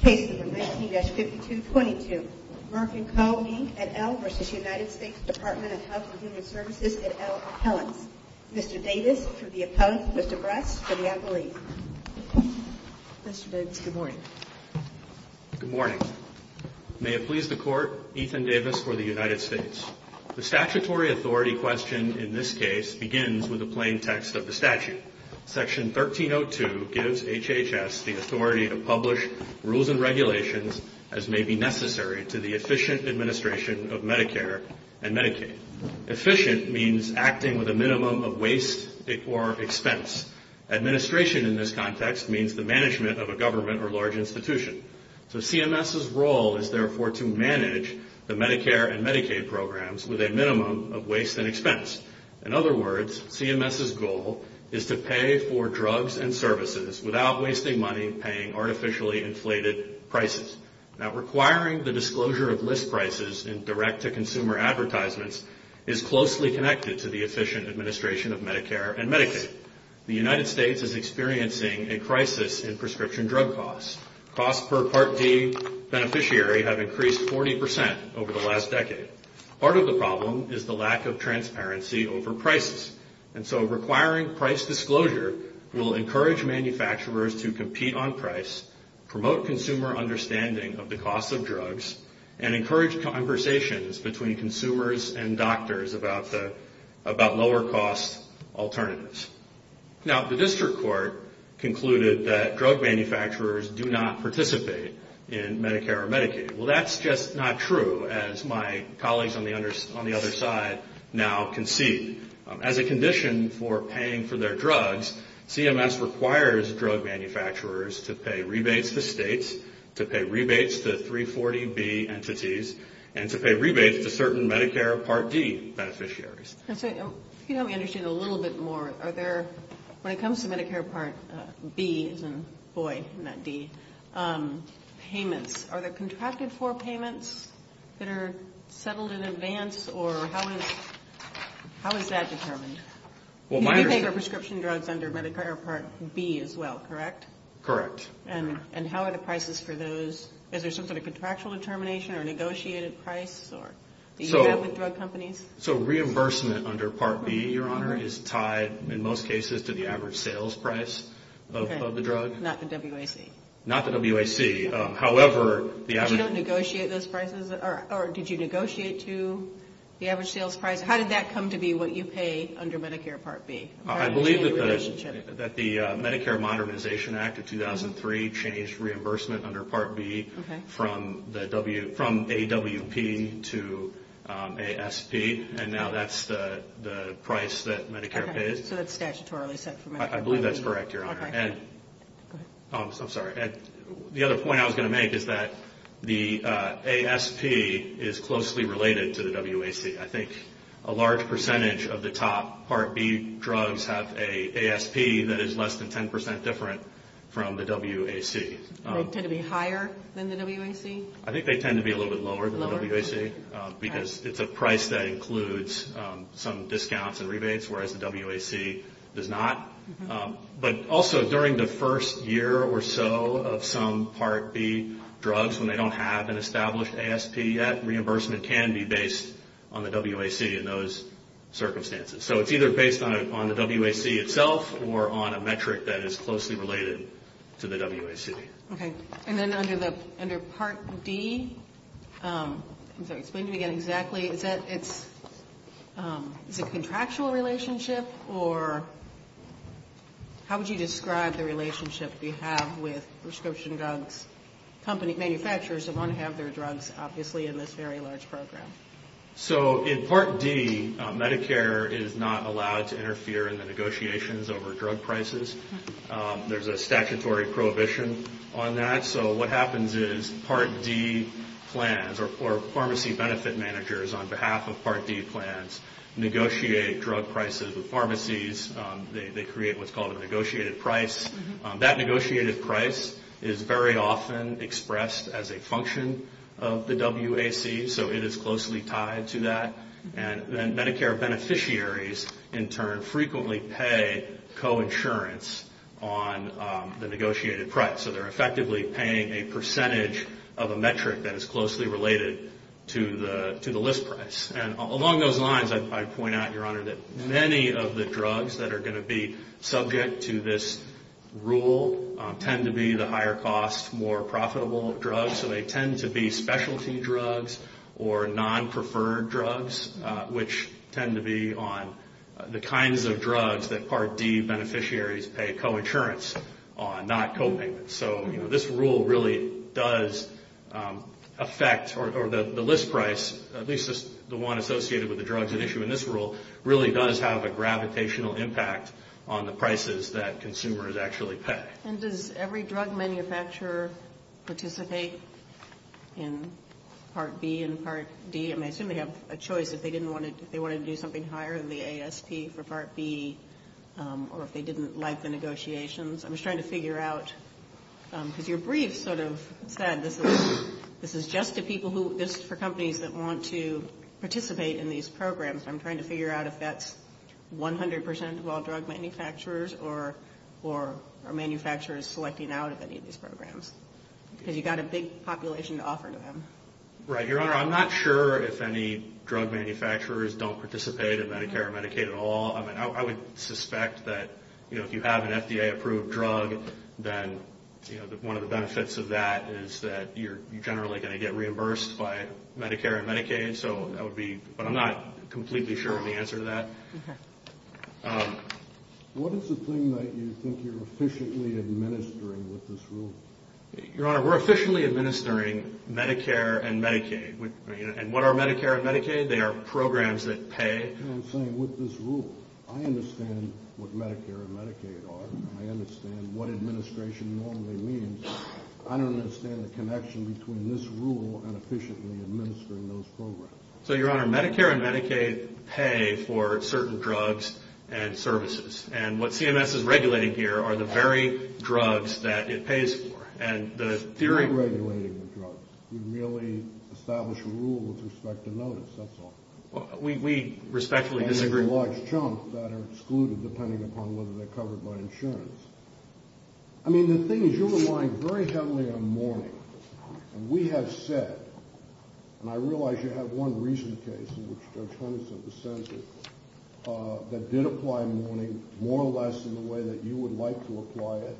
Case number 19-5222, Merck & Co., Inc. et al. v. United States Department of Health and Human Services et al. appellants. Mr. Davis for the appellant, Mr. Brass for the appellee. Mr. Davis, good morning. Good morning. May it please the Court, Ethan Davis for the United States. The statutory authority questioned in this case begins with a plain text of the statute. Section 1302 gives HHS the authority to publish rules and regulations as may be necessary to the efficient administration of Medicare and Medicaid. Efficient means acting with a minimum of waste or expense. Administration in this context means the management of a government or large institution. So CMS's role is therefore to manage the Medicare and Medicaid programs with a minimum of waste and expense. In other words, CMS's goal is to pay for drugs and services without wasting money paying artificially inflated prices. Now, requiring the disclosure of list prices in direct-to-consumer advertisements is closely connected to the efficient administration of Medicare and Medicaid. The United States is experiencing a crisis in prescription drug costs. Costs per Part D beneficiary have increased 40 percent over the last decade. Part of the problem is the lack of transparency over prices. And so requiring price disclosure will encourage manufacturers to compete on price, promote consumer understanding of the cost of drugs, and encourage conversations between consumers and doctors about lower-cost alternatives. Now, the District Court concluded that drug manufacturers do not participate in Medicare or Medicaid. Well, that's just not true, as my colleagues on the other side now concede. As a condition for paying for their drugs, CMS requires drug manufacturers to pay rebates to states, to pay rebates to 340B entities, and to pay rebates to certain Medicare Part D beneficiaries. If you could help me understand a little bit more, are there, when it comes to Medicare Part B, as in boy, not D, payments, are there contracted-for payments that are settled in advance, or how is that determined? You do pay for prescription drugs under Medicare Part B as well, correct? Correct. And how are the prices for those? Is there some sort of contractual determination or negotiated price, or do you do that with drug companies? So reimbursement under Part B, Your Honor, is tied, in most cases, to the average sales price of the drug. Okay. Not the WAC. Not the WAC. However, the average- But you don't negotiate those prices, or did you negotiate to the average sales price? How did that come to be what you pay under Medicare Part B? How did you change the relationship? And now that's the price that Medicare pays. Okay. So that's statutorily set for Medicare Part B. I believe that's correct, Your Honor. Okay. Go ahead. I'm sorry. The other point I was going to make is that the ASP is closely related to the WAC. I think a large percentage of the top Part B drugs have an ASP that is less than 10 percent different from the WAC. They tend to be higher than the WAC? I think they tend to be a little bit lower than the WAC. Lower? Because it's a price that includes some discounts and rebates, whereas the WAC does not. But also, during the first year or so of some Part B drugs, when they don't have an established ASP, that reimbursement can be based on the WAC in those circumstances. So it's either based on the WAC itself or on a metric that is closely related to the WAC. Okay. And then under Part D, I'm sorry, explain to me again exactly, is it a contractual relationship or how would you describe the relationship you have with prescription drugs manufacturers that want to have their drugs, obviously, in this very large program? So in Part D, Medicare is not allowed to interfere in the negotiations over drug prices. There's a statutory prohibition on that. So what happens is Part D plans or pharmacy benefit managers, on behalf of Part D plans, negotiate drug prices with pharmacies. They create what's called a negotiated price. That negotiated price is very often expressed as a function of the WAC, so it is closely tied to that. And then Medicare beneficiaries, in turn, frequently pay coinsurance on the negotiated price. So they're effectively paying a percentage of a metric that is closely related to the list price. And along those lines, I'd point out, Your Honor, that many of the drugs that are going to be subject to this rule tend to be the higher cost, more profitable drugs. So they tend to be specialty drugs or non-preferred drugs, which tend to be on the kinds of drugs that Part D beneficiaries pay coinsurance on, not copayments. So, you know, this rule really does affect or the list price, at least the one associated with the drugs at issue in this rule, really does have a gravitational impact on the prices that consumers actually pay. And does every drug manufacturer participate in Part B and Part D? I mean, I assume they have a choice if they wanted to do something higher than the ASP for Part B, or if they didn't like the negotiations. I'm just trying to figure out, because your brief sort of said this is just for companies that want to participate in these programs. I'm trying to figure out if that's 100 percent of all drug manufacturers or manufacturers selecting out of any of these programs, because you've got a big population to offer to them. Right. Your Honor, I'm not sure if any drug manufacturers don't participate in Medicare or Medicaid at all. I mean, I would suspect that, you know, if you have an FDA-approved drug, then one of the benefits of that is that you're generally going to get reimbursed by Medicare and Medicaid. But I'm not completely sure of the answer to that. What is the thing that you think you're efficiently administering with this rule? Your Honor, we're efficiently administering Medicare and Medicaid. And what are Medicare and Medicaid? They are programs that pay. I'm saying with this rule, I understand what Medicare and Medicaid are. I understand what administration normally means. I don't understand the connection between this rule and efficiently administering those programs. So, Your Honor, Medicare and Medicaid pay for certain drugs and services. And what CMS is regulating here are the very drugs that it pays for. We're not regulating the drugs. We merely establish a rule with respect to notice. That's all. We respectfully disagree. And there are large chunks that are excluded, depending upon whether they're covered by insurance. I mean, the thing is you're relying very heavily on mourning. And we have said, and I realize you have one recent case in which Judge Hunterson dissented, that did apply mourning more or less in the way that you would like to apply it.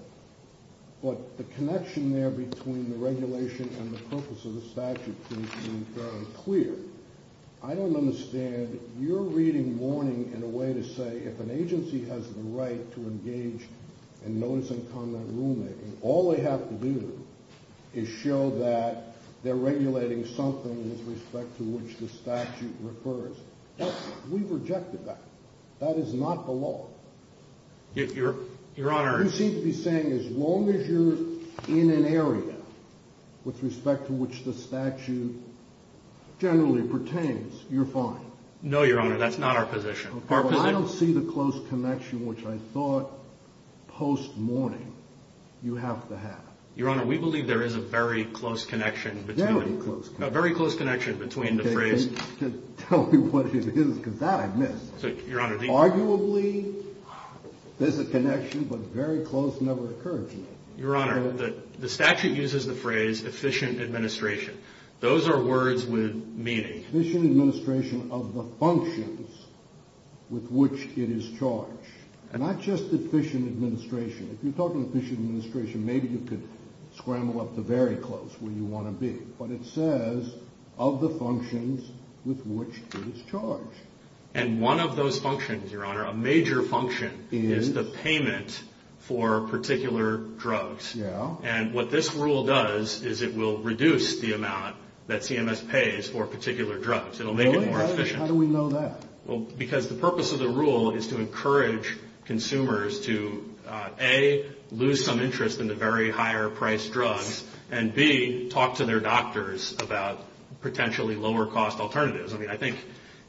But the connection there between the regulation and the purpose of the statute seems to be very clear. I don't understand your reading mourning in a way to say if an agency has the right to engage in notice and comment rulemaking, all they have to do is show that they're regulating something with respect to which the statute refers. We've rejected that. That is not the law. Your Honor. You seem to be saying as long as you're in an area with respect to which the statute generally pertains, you're fine. No, Your Honor. That's not our position. I don't see the close connection, which I thought post-mourning you have to have. Your Honor, we believe there is a very close connection. Very close. A very close connection between the phrase. Tell me what it is, because that I missed. Arguably, there's a connection, but very close never occurs. Your Honor, the statute uses the phrase efficient administration. Those are words with meaning. Efficient administration of the functions with which it is charged. And not just efficient administration. If you're talking efficient administration, maybe you could scramble up to very close where you want to be. But it says of the functions with which it is charged. And one of those functions, Your Honor, a major function is the payment for particular drugs. And what this rule does is it will reduce the amount that CMS pays for particular drugs. It will make it more efficient. How do we know that? Because the purpose of the rule is to encourage consumers to A, lose some interest in the very higher priced drugs, and B, talk to their doctors about potentially lower cost alternatives. I mean, I think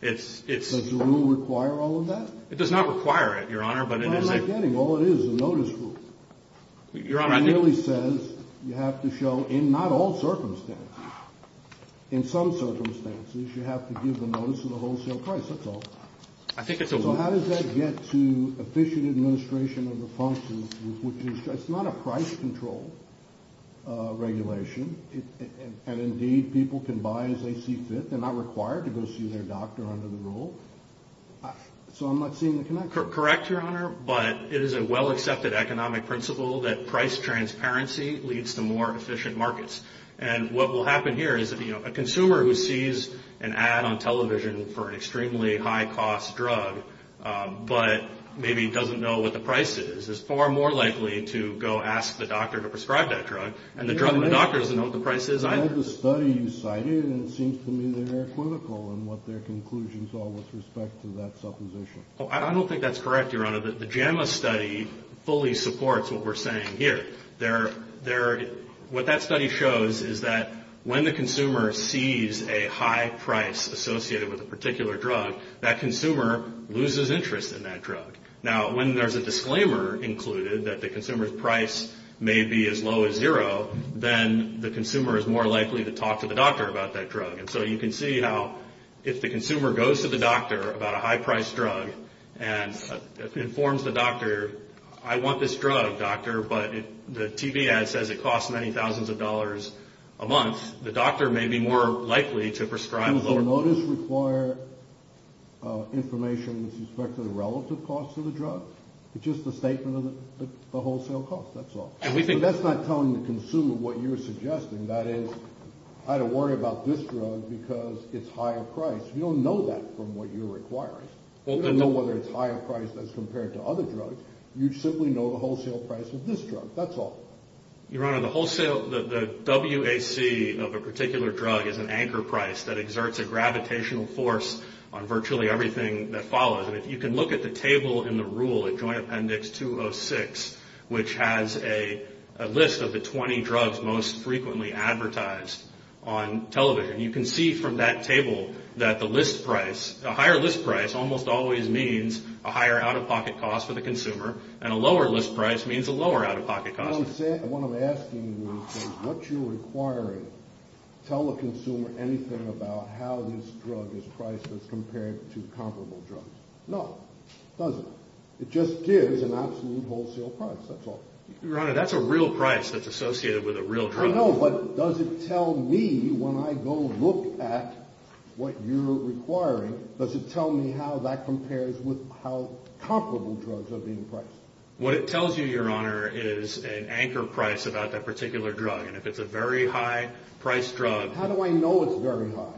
it's. Does the rule require all of that? It does not require it, Your Honor. I'm not getting. All it is is a notice rule. Your Honor, I think. It merely says you have to show in not all circumstances. In some circumstances, you have to give a notice of the wholesale price. That's all. I think it's a rule. So how does that get to efficient administration of the functions with which it's charged? It's not a price control regulation. And indeed, people can buy as they see fit. They're not required to go see their doctor under the rule. So I'm not seeing the connection. Correct, Your Honor. But it is a well-accepted economic principle that price transparency leads to more efficient markets. And what will happen here is a consumer who sees an ad on television for an extremely high-cost drug but maybe doesn't know what the price is, is far more likely to go ask the doctor to prescribe that drug. And the doctor doesn't know what the price is either. I read the study you cited, and it seems to me they're critical in what their conclusions are with respect to that supposition. I don't think that's correct, Your Honor. The JAMA study fully supports what we're saying here. What that study shows is that when the consumer sees a high price associated with a particular drug, that consumer loses interest in that drug. Now, when there's a disclaimer included that the consumer's price may be as low as zero, then the consumer is more likely to talk to the doctor about that drug. And so you can see how if the consumer goes to the doctor about a high-priced drug and informs the doctor, I want this drug, doctor, but the TV ad says it costs many thousands of dollars a month, the doctor may be more likely to prescribe a lower price. Does the notice require information with respect to the relative cost of the drug? It's just a statement of the wholesale cost, that's all. That's not telling the consumer what you're suggesting. That is, I don't worry about this drug because it's higher priced. You don't know that from what you're requiring. You don't know whether it's higher priced as compared to other drugs. You simply know the wholesale price of this drug. That's all. Your Honor, the wholesale, the WAC of a particular drug is an anchor price that exerts a gravitational force on virtually everything that follows. And if you can look at the table in the rule at Joint Appendix 206, which has a list of the 20 drugs most frequently advertised on television, you can see from that table that the list price, a higher list price, almost always means a higher out-of-pocket cost for the consumer, and a lower list price means a lower out-of-pocket cost. What I'm asking you is what you're requiring. Tell the consumer anything about how this drug is priced as compared to comparable drugs. No. It doesn't. It just gives an absolute wholesale price. That's all. Your Honor, that's a real price that's associated with a real drug. I know, but does it tell me when I go look at what you're requiring, does it tell me how that compares with how comparable drugs are being priced? What it tells you, Your Honor, is an anchor price about that particular drug. And if it's a very high-priced drug. How do I know it's very high?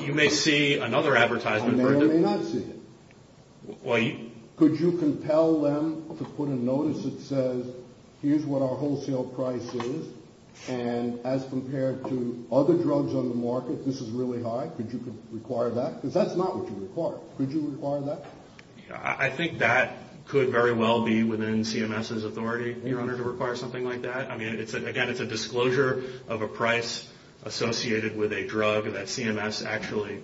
You may see another advertisement. I may or may not see it. Could you compel them to put a notice that says, here's what our wholesale price is, and as compared to other drugs on the market, this is really high, could you require that? Because that's not what you require. I think that could very well be within CMS's authority, Your Honor, to require something like that. I mean, again, it's a disclosure of a price associated with a drug that CMS actually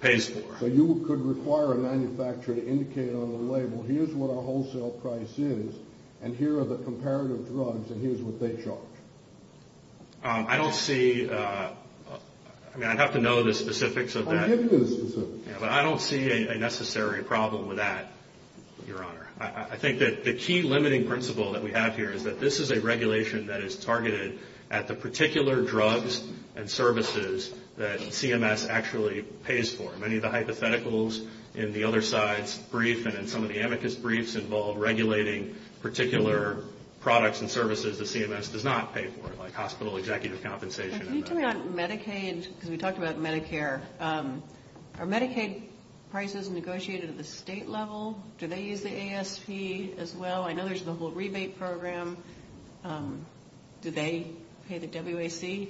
pays for. So you could require a manufacturer to indicate on a label, here's what our wholesale price is, and here are the comparative drugs, and here's what they charge. I don't see – I mean, I'd have to know the specifics of that. I'll give you the specifics. But I don't see a necessary problem with that, Your Honor. I think that the key limiting principle that we have here is that this is a regulation that is targeted at the particular drugs and services that CMS actually pays for. Many of the hypotheticals in the other side's brief and in some of the amicus briefs involve regulating particular products and services that CMS does not pay for, like hospital executive compensation. Can you tell me on Medicaid, because we talked about Medicare, are Medicaid prices negotiated at the state level? Do they use the ASP as well? I know there's the whole rebate program. Do they pay the WAC?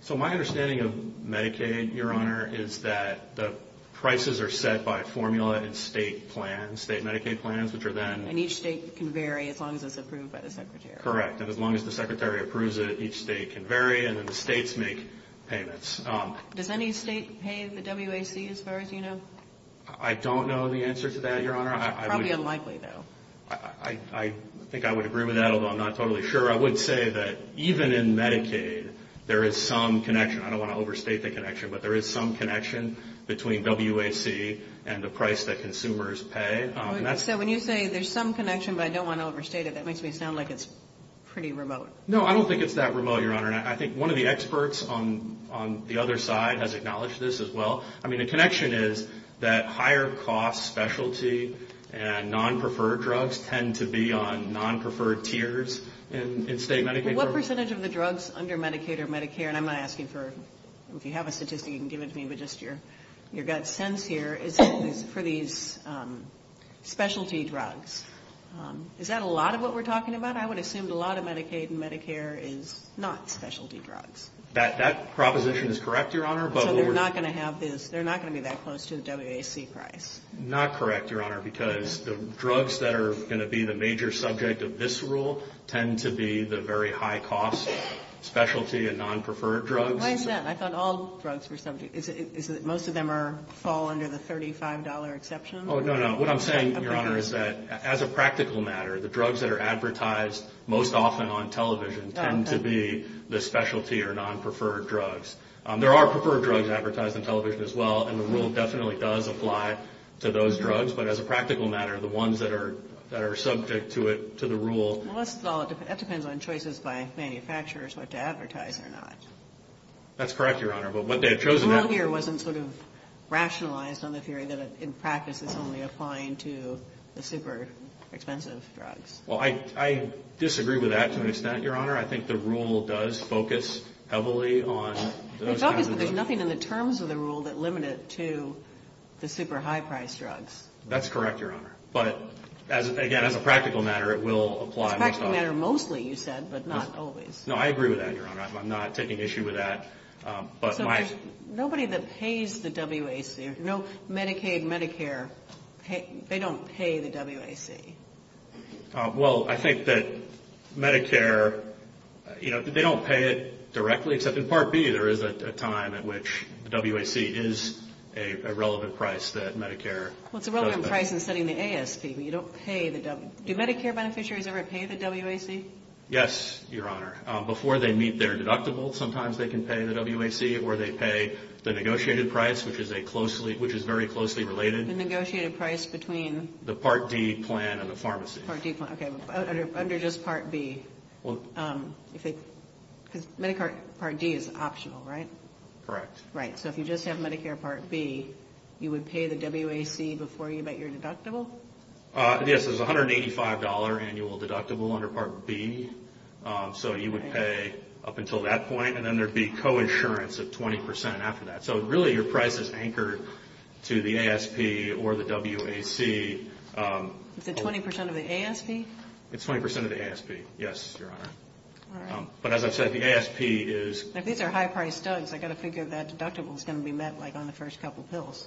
So my understanding of Medicaid, Your Honor, is that the prices are set by formula in state plans, state Medicaid plans, which are then – And each state can vary as long as it's approved by the Secretary. Correct, and as long as the Secretary approves it, each state can vary, and then the states make payments. Does any state pay the WAC, as far as you know? I don't know the answer to that, Your Honor. Probably unlikely, though. I think I would agree with that, although I'm not totally sure. I would say that even in Medicaid, there is some connection. I don't want to overstate the connection, but there is some connection between WAC and the price that consumers pay. So when you say there's some connection, but I don't want to overstate it, that makes me sound like it's pretty remote. No, I don't think it's that remote, Your Honor. I think one of the experts on the other side has acknowledged this as well. I mean, the connection is that higher-cost specialty and non-preferred drugs tend to be on non-preferred tiers in state Medicaid programs. What percentage of the drugs under Medicaid or Medicare – and I'm not asking for – if you have a statistic, you can give it to me, but just your gut sense here – is for these specialty drugs. Is that a lot of what we're talking about? I would assume a lot of Medicaid and Medicare is not specialty drugs. That proposition is correct, Your Honor. So they're not going to be that close to the WAC price? Not correct, Your Honor, because the drugs that are going to be the major subject of this rule tend to be the very high-cost specialty and non-preferred drugs. Why is that? I thought all drugs were subject – most of them fall under the $35 exception? Oh, no, no. What I'm saying, Your Honor, is that as a practical matter, the drugs that are advertised most often on television tend to be the specialty or non-preferred drugs. There are preferred drugs advertised on television as well, and the rule definitely does apply to those drugs, but as a practical matter, the ones that are subject to the rule – Well, that depends on choices by manufacturers what to advertise or not. That's correct, Your Honor, but what they have chosen – The rule here wasn't sort of rationalized on the theory that, in practice, it's only applying to the super-expensive drugs. Well, I disagree with that to an extent, Your Honor. I think the rule does focus heavily on those kinds of drugs. There's nothing in the terms of the rule that limit it to the super-high-priced drugs. That's correct, Your Honor. But, again, as a practical matter, it will apply most often. Practical matter mostly, you said, but not always. No, I agree with that, Your Honor. I'm not taking issue with that. Nobody that pays the WAC – Medicaid, Medicare – they don't pay the WAC. Well, I think that Medicare – you know, they don't pay it directly, except in Part B there is a time at which the WAC is a relevant price that Medicare – Well, it's a relevant price in setting the ASP, but you don't pay the – do Medicare beneficiaries ever pay the WAC? Yes, Your Honor. Before they meet their deductible, sometimes they can pay the WAC, or they pay the negotiated price, which is a closely – which is very closely related. The negotiated price between – The Part D plan and the pharmacy. Part D plan. Okay, but under just Part B, if they – because Medicare Part D is optional, right? Correct. Right. So if you just have Medicare Part B, you would pay the WAC before you met your deductible? Yes, there's a $185 annual deductible under Part B. So you would pay up until that point, and then there would be coinsurance of 20% after that. So really, your price is anchored to the ASP or the WAC. Is it 20% of the ASP? It's 20% of the ASP, yes, Your Honor. All right. But as I've said, the ASP is – These are high-priced studs. I've got to figure that deductible is going to be met, like, on the first couple pills.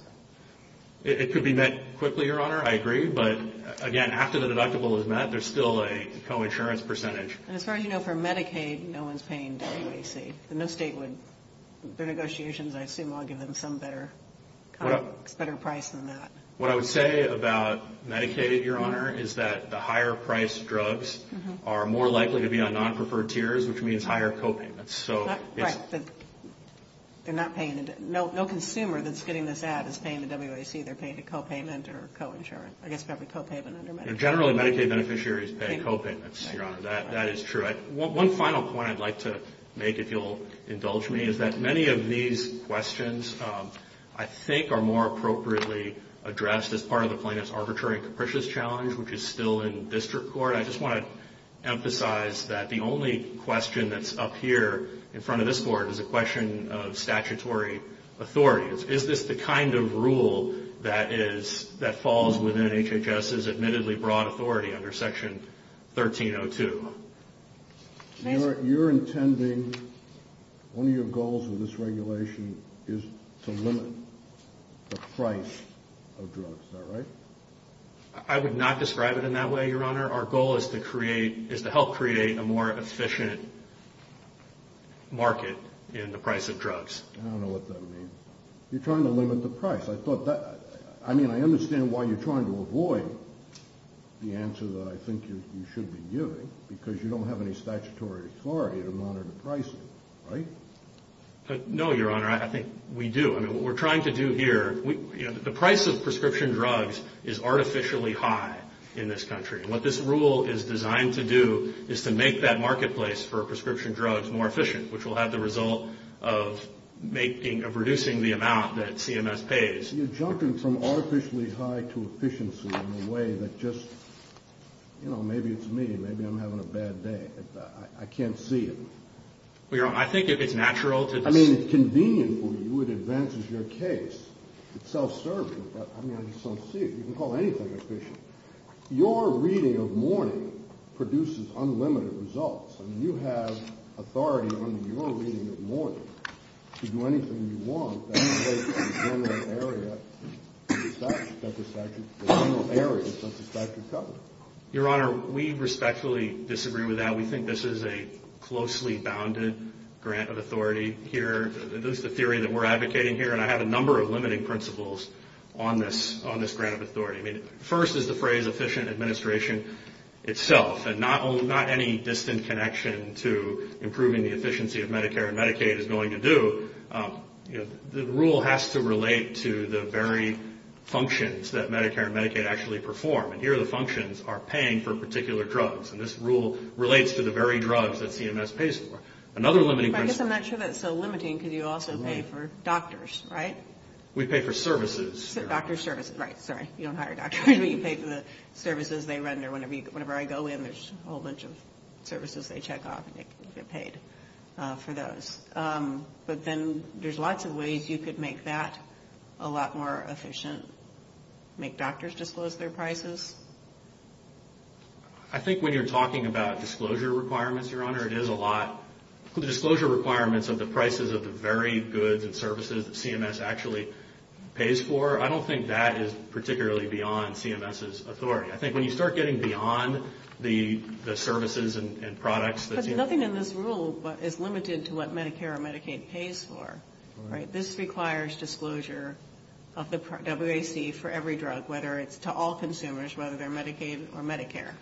It could be met quickly, Your Honor, I agree. But, again, after the deductible is met, there's still a coinsurance percentage. And as far as you know, for Medicaid, no one's paying WAC. No state would – their negotiations, I assume, will give them some better price than that. What I would say about Medicaid, Your Honor, is that the higher-priced drugs are more likely to be on non-preferred tiers, which means higher copayments. Right. They're not paying – no consumer that's getting this ad is paying the WAC. They're paying a copayment or coinsurance. I guess probably copayment under Medicaid. Generally, Medicaid beneficiaries pay copayments, Your Honor. That is true. One final point I'd like to make, if you'll indulge me, is that many of these questions, I think, are more appropriately addressed as part of the plaintiff's arbitrary and capricious challenge, which is still in district court. I just want to emphasize that the only question that's up here in front of this board is a question of statutory authority. Is this the kind of rule that falls within HHS's admittedly broad authority under Section 1302? You're intending – one of your goals with this regulation is to limit the price of drugs. Is that right? I would not describe it in that way, Your Honor. Our goal is to create – is to help create a more efficient market in the price of drugs. I don't know what that means. You're trying to limit the price. I thought that – I mean, I understand why you're trying to avoid the answer that I think you should be giving, because you don't have any statutory authority to monitor pricing, right? No, Your Honor. I think we do. I mean, what we're trying to do here – the price of prescription drugs is artificially high in this country. What this rule is designed to do is to make that marketplace for prescription drugs more efficient, which will have the result of making – of reducing the amount that CMS pays. You're jumping from artificially high to efficiency in a way that just – you know, maybe it's me. Maybe I'm having a bad day. I can't see it. Well, Your Honor, I think it's natural to – I mean, it's convenient for you. It advances your case. It's self-serving, but, I mean, I just don't see it. You can call anything efficient. Your reading of mourning produces unlimited results. I mean, you have authority under your reading of mourning to do anything you want. That doesn't take the general area of satisfactory coverage. Your Honor, we respectfully disagree with that. We think this is a closely bounded grant of authority here. This is the theory that we're advocating here, and I have a number of limiting principles on this grant of authority. I mean, first is the phrase efficient administration itself, and not any distant connection to improving the efficiency of Medicare and Medicaid is going to do. You know, the rule has to relate to the very functions that Medicare and Medicaid actually perform, and here the functions are paying for particular drugs, and this rule relates to the very drugs that CMS pays for. Another limiting principle. But I guess I'm not sure that's so limiting because you also pay for doctors, right? We pay for services. Doctors' services. Right, sorry. You don't hire doctors, but you pay for the services they render. Whenever I go in, there's a whole bunch of services they check off, and you get paid for those. But then there's lots of ways you could make that a lot more efficient, make doctors disclose their prices. I think when you're talking about disclosure requirements, Your Honor, it is a lot. The disclosure requirements of the prices of the very goods and services that CMS actually pays for, I don't think that is particularly beyond CMS's authority. I think when you start getting beyond the services and products that CMS pays for. But nothing in this rule is limited to what Medicare or Medicaid pays for, right? This requires disclosure of the WAC for every drug, whether it's to all consumers, whether they're Medicaid or Medicare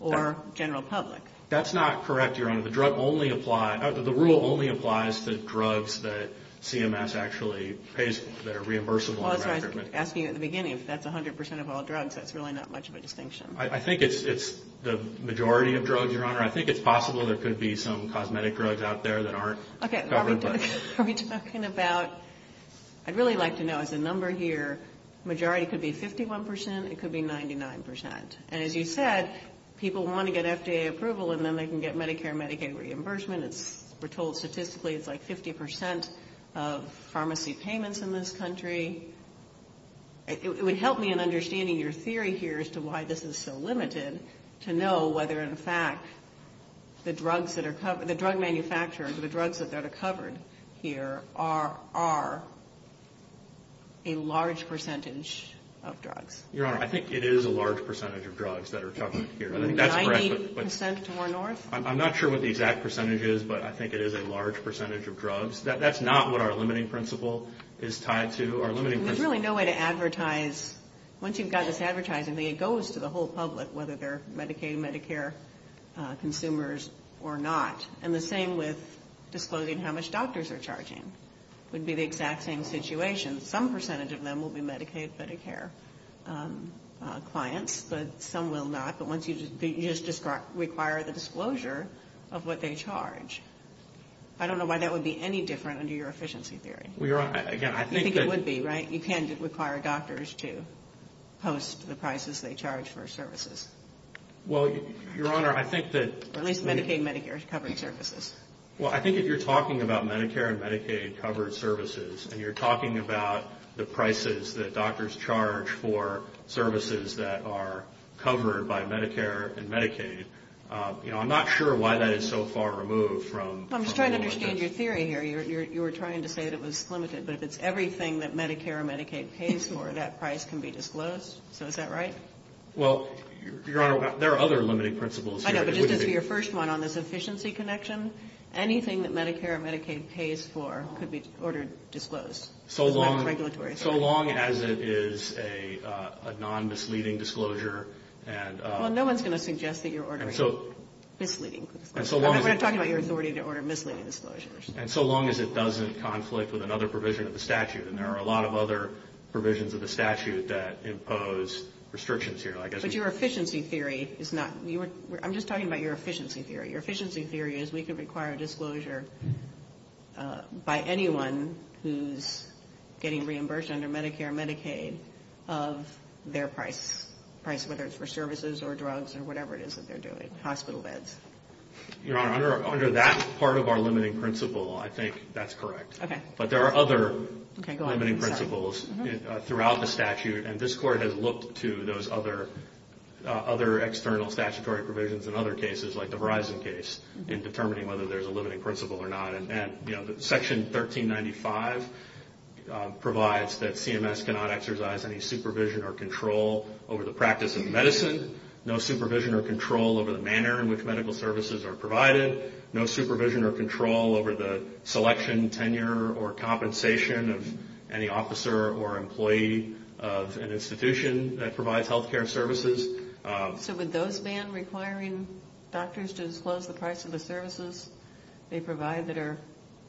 or general public. That's not correct, Your Honor. The rule only applies to drugs that CMS actually pays for, that are reimbursable. Well, that's what I was asking you at the beginning. If that's 100 percent of all drugs, that's really not much of a distinction. I think it's the majority of drugs, Your Honor. I think it's possible there could be some cosmetic drugs out there that aren't covered. Okay. Robert, are we talking about, I'd really like to know, as a number here, majority could be 51 percent, it could be 99 percent. And as you said, people want to get FDA approval and then they can get Medicare and Medicaid reimbursement. We're told statistically it's like 50 percent of pharmacy payments in this country. It would help me in understanding your theory here as to why this is so limited, to know whether, in fact, the drug manufacturers, the drugs that are covered here are a large percentage of drugs. Your Honor, I think it is a large percentage of drugs that are covered here. I think that's correct. 90 percent or north? I'm not sure what the exact percentage is, but I think it is a large percentage of drugs. That's not what our limiting principle is tied to. There's really no way to advertise. Once you've got this advertising, it goes to the whole public, whether they're Medicaid, Medicare consumers or not. And the same with disclosing how much doctors are charging. It would be the exact same situation. Some percentage of them will be Medicaid, Medicare clients, but some will not. But once you just require the disclosure of what they charge. I don't know why that would be any different under your efficiency theory. Well, Your Honor, again, I think that. You think it would be, right? You can't require doctors to post the prices they charge for services. Well, Your Honor, I think that. Or at least Medicaid and Medicare covered services. Well, I think if you're talking about Medicare and Medicaid covered services, and you're talking about the prices that doctors charge for services that are covered by Medicare and Medicaid, you know, I'm not sure why that is so far removed from. I'm just trying to understand your theory here. You were trying to say that it was limited. But if it's everything that Medicare and Medicaid pays for, that price can be disclosed. So is that right? Well, Your Honor, there are other limiting principles here. But just as for your first one on this efficiency connection, anything that Medicare and Medicaid pays for could be ordered disclosed. So long as it is a non-misleading disclosure. Well, no one's going to suggest that you're ordering misleading. We're not talking about your authority to order misleading disclosures. And so long as it doesn't conflict with another provision of the statute. And there are a lot of other provisions of the statute that impose restrictions here. But your efficiency theory is not. I'm just talking about your efficiency theory. Your efficiency theory is we could require a disclosure by anyone who's getting reimbursed under Medicare and Medicaid of their price, whether it's for services or drugs or whatever it is that they're doing, hospital beds. Your Honor, under that part of our limiting principle, I think that's correct. But there are other limiting principles throughout the statute. And this Court has looked to those other external statutory provisions in other cases like the Verizon case in determining whether there's a limiting principle or not. And Section 1395 provides that CMS cannot exercise any supervision or control over the practice of medicine, no supervision or control over the manner in which medical services are provided, no supervision or control over the selection, tenure, or compensation of any officer or employee of an institution that provides health care services. So would those ban requiring doctors to disclose the price of the services they provide that are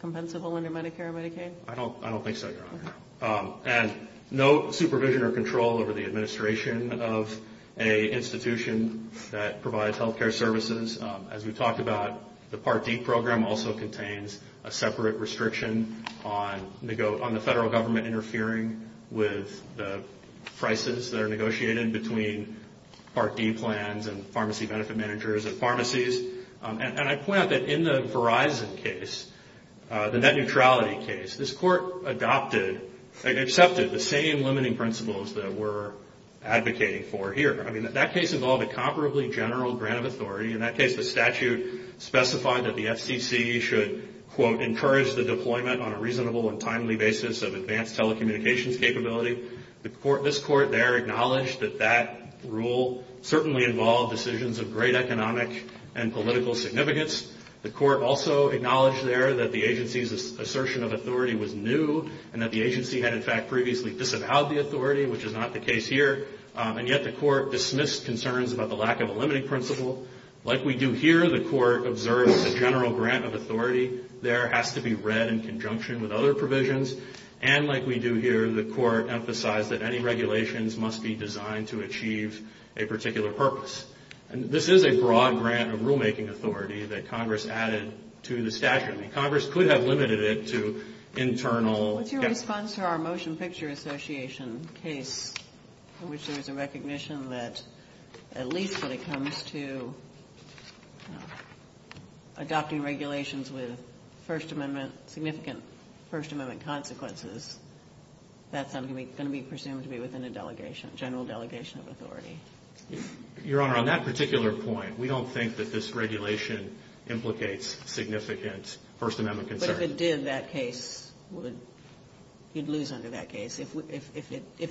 compensable under Medicare and Medicaid? I don't think so, Your Honor. And no supervision or control over the administration of an institution that provides health care services. As we talked about, the Part D program also contains a separate restriction on the federal government interfering with the prices that are negotiated between Part D plans and pharmacy benefit managers and pharmacies. And I point out that in the Verizon case, the net neutrality case, this Court accepted the same limiting principles that we're advocating for here. I mean, that case involved a comparably general grant of authority. In that case, the statute specified that the FCC should, quote, encourage the deployment on a reasonable and timely basis of advanced telecommunications capability. This Court there acknowledged that that rule certainly involved decisions of great economic and political significance. The Court also acknowledged there that the agency's assertion of authority was new and that the agency had, in fact, previously disavowed the authority, which is not the case here. And yet the Court dismissed concerns about the lack of a limiting principle. Like we do here, the Court observes a general grant of authority. There has to be read in conjunction with other provisions. And like we do here, the Court emphasized that any regulations must be designed to achieve a particular purpose. And this is a broad grant of rulemaking authority that Congress added to the statute. I mean, Congress could have limited it to internal. What's your response to our Motion Picture Association case in which there was a recognition that, at least when it comes to adopting regulations with First Amendment, significant First Amendment consequences, that's going to be presumed to be within a delegation, general delegation of authority? Your Honor, on that particular point, we don't think that this regulation implicates significant First Amendment concerns. But if it did, that case would, you'd lose under that case. If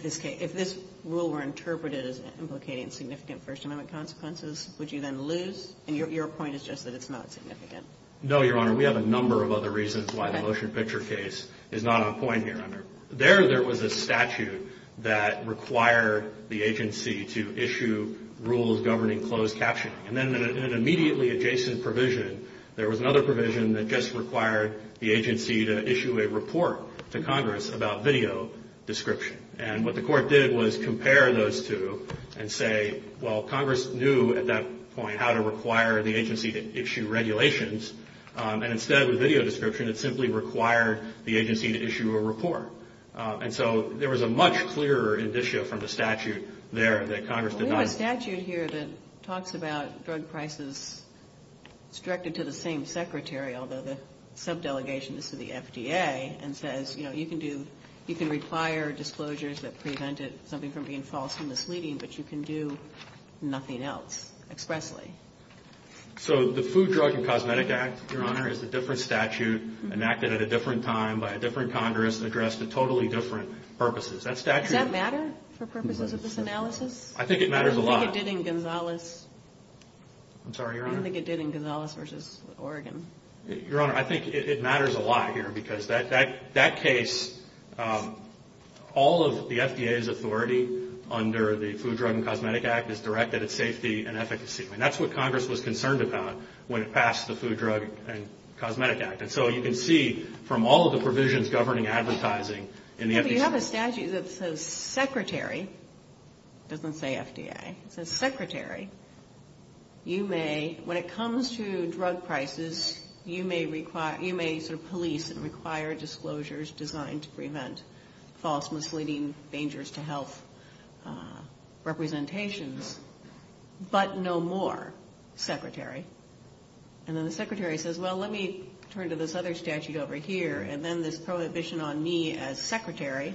this rule were interpreted as implicating significant First Amendment consequences, would you then lose? And your point is just that it's not significant. No, Your Honor. We have a number of other reasons why the Motion Picture case is not on point here, Your Honor. There, there was a statute that required the agency to issue rules governing closed captioning. And then in an immediately adjacent provision, there was another provision that just required the agency to issue a report to Congress about video description. And what the Court did was compare those two and say, well, Congress knew at that point how to require the agency to issue regulations. And instead, with video description, it simply required the agency to issue a report. And so there was a much clearer indicia from the statute there that Congress denied. There's a statute here that talks about drug prices. It's directed to the same secretary, although the sub-delegation is to the FDA, and says, you know, you can do, you can require disclosures that prevent something from being false and misleading, but you can do nothing else expressly. So the Food, Drug, and Cosmetic Act, Your Honor, is a different statute, enacted at a different time by a different Congress addressed to totally different purposes. Does that matter for purposes of this analysis? I think it matters a lot. I don't think it did in Gonzales. I'm sorry, Your Honor? I don't think it did in Gonzales v. Oregon. Your Honor, I think it matters a lot here because that case, all of the FDA's authority under the Food, Drug, and Cosmetic Act is directed at safety and efficacy. And that's what Congress was concerned about when it passed the Food, Drug, and Cosmetic Act. But you have a statute that says secretary, it doesn't say FDA, it says secretary, you may, when it comes to drug prices, you may sort of police and require disclosures designed to prevent false, misleading, dangers to health representations, but no more secretary. And then the secretary says, well, let me turn to this other statute over here, and then this prohibition on me as secretary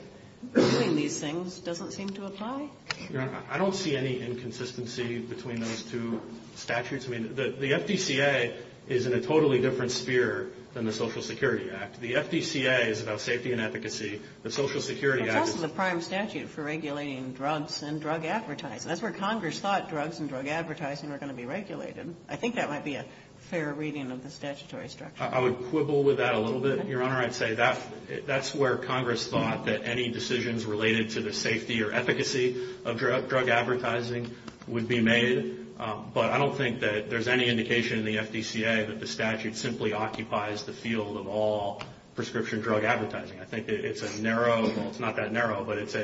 doing these things doesn't seem to apply. Your Honor, I don't see any inconsistency between those two statutes. I mean, the FDCA is in a totally different sphere than the Social Security Act. The FDCA is about safety and efficacy. The Social Security Act is the prime statute for regulating drugs and drug advertising. That's where Congress thought drugs and drug advertising were going to be regulated. I think that might be a fair reading of the statutory structure. I would quibble with that a little bit, Your Honor. I'd say that's where Congress thought that any decisions related to the safety or efficacy of drug advertising would be made. But I don't think that there's any indication in the FDCA that the statute simply occupies the field of all prescription drug advertising. I think it's a narrow, well, it's not that narrow, but it's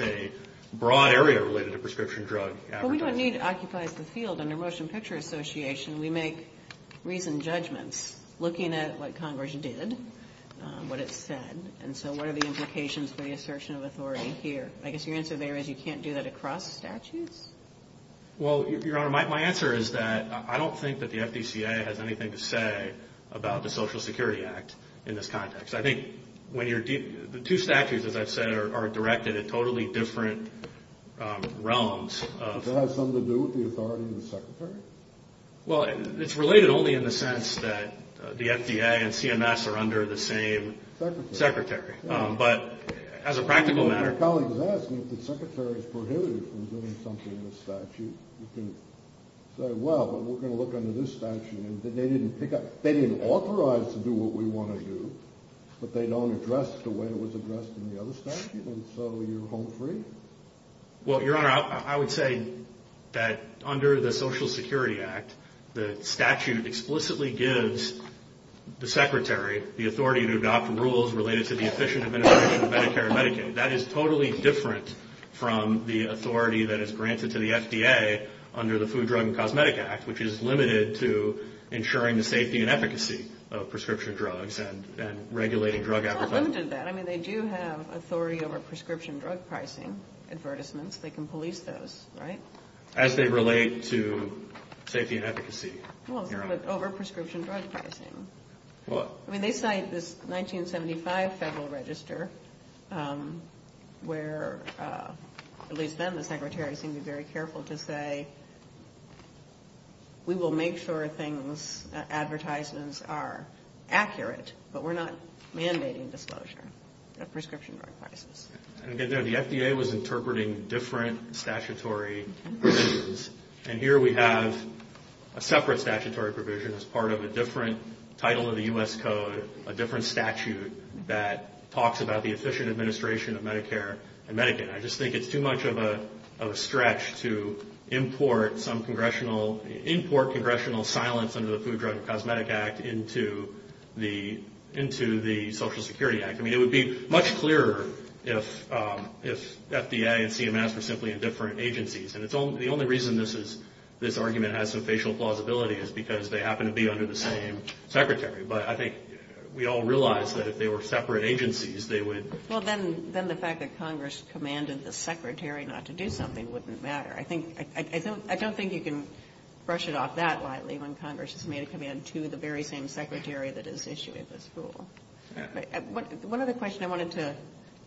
a broad area related to prescription drug advertising. Well, we don't need to occupy the field under Motion Picture Association. We make reasoned judgments looking at what Congress did, what it said. And so what are the implications for the assertion of authority here? I guess your answer there is you can't do that across statutes? Well, Your Honor, my answer is that I don't think that the FDCA has anything to say about the Social Security Act in this context. I think when you're – the two statutes, as I've said, are directed at totally different realms. Does it have something to do with the authority of the secretary? Well, it's related only in the sense that the FDA and CMS are under the same secretary. But as a practical matter – My colleague is asking if the secretary is prohibited from doing something in the statute, you can say, well, but we're going to look under this statute. And they didn't pick up – they didn't authorize to do what we want to do, but they don't address it the way it was addressed in the other statute, and so you're home free? Well, Your Honor, I would say that under the Social Security Act, the statute explicitly gives the secretary the authority to adopt rules related to the efficient administration of Medicare and Medicaid. That is totally different from the authority that is granted to the FDA under the Food, Drug, and Cosmetic Act, which is limited to ensuring the safety and efficacy of prescription drugs and regulating drug advertising. Well, it's not limited to that. I mean, they do have authority over prescription drug pricing advertisements. They can police those, right? As they relate to safety and efficacy. Well, it's not over prescription drug pricing. Well – I mean, they cite this 1975 Federal Register, where at least then the secretary seemed to be very careful to say, we will make sure things – advertisements are accurate, but we're not mandating disclosure of prescription drug prices. And again, the FDA was interpreting different statutory provisions, and here we have a separate statutory provision as part of a different title of the U.S. Code, a different statute that talks about the efficient administration of Medicare and Medicaid. And I just think it's too much of a stretch to import some congressional – import congressional silence under the Food, Drug, and Cosmetic Act into the Social Security Act. I mean, it would be much clearer if FDA and CMS were simply in different agencies. And the only reason this argument has some facial plausibility is because they happen to be under the same secretary. But I think we all realize that if they were separate agencies, they would – Well, then the fact that Congress commanded the secretary not to do something wouldn't matter. I think – I don't think you can brush it off that lightly when Congress has made a command to the very same secretary that is issuing this rule. One other question I wanted to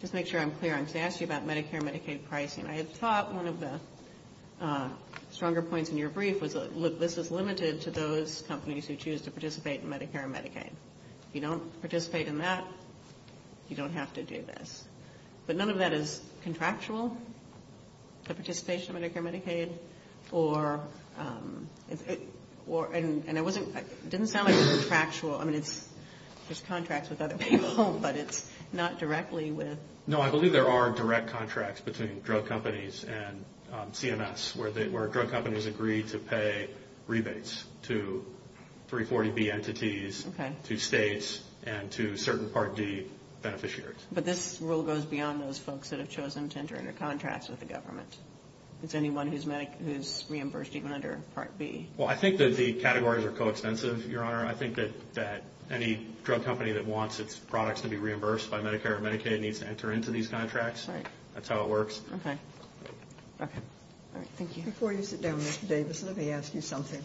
just make sure I'm clear on. To ask you about Medicare and Medicaid pricing, I had thought one of the stronger points in your brief was, look, this is limited to those companies who choose to participate in Medicare and Medicaid. If you don't participate in that, you don't have to do this. But none of that is contractual, the participation of Medicare and Medicaid? Or – and it wasn't – it didn't sound like it was contractual. I mean, it's just contracts with other people, but it's not directly with – No, I believe there are direct contracts between drug companies and CMS, where drug companies agree to pay rebates to 340B entities, to states, and to certain Part D beneficiaries. But this rule goes beyond those folks that have chosen to enter into contracts with the government. It's anyone who's reimbursed even under Part B. Well, I think that the categories are coextensive, Your Honor. I think that any drug company that wants its products to be reimbursed by Medicare or Medicaid needs to enter into these contracts. Right. That's how it works. Okay. Okay. All right. Thank you. Before you sit down, Mr. Davis, let me ask you something.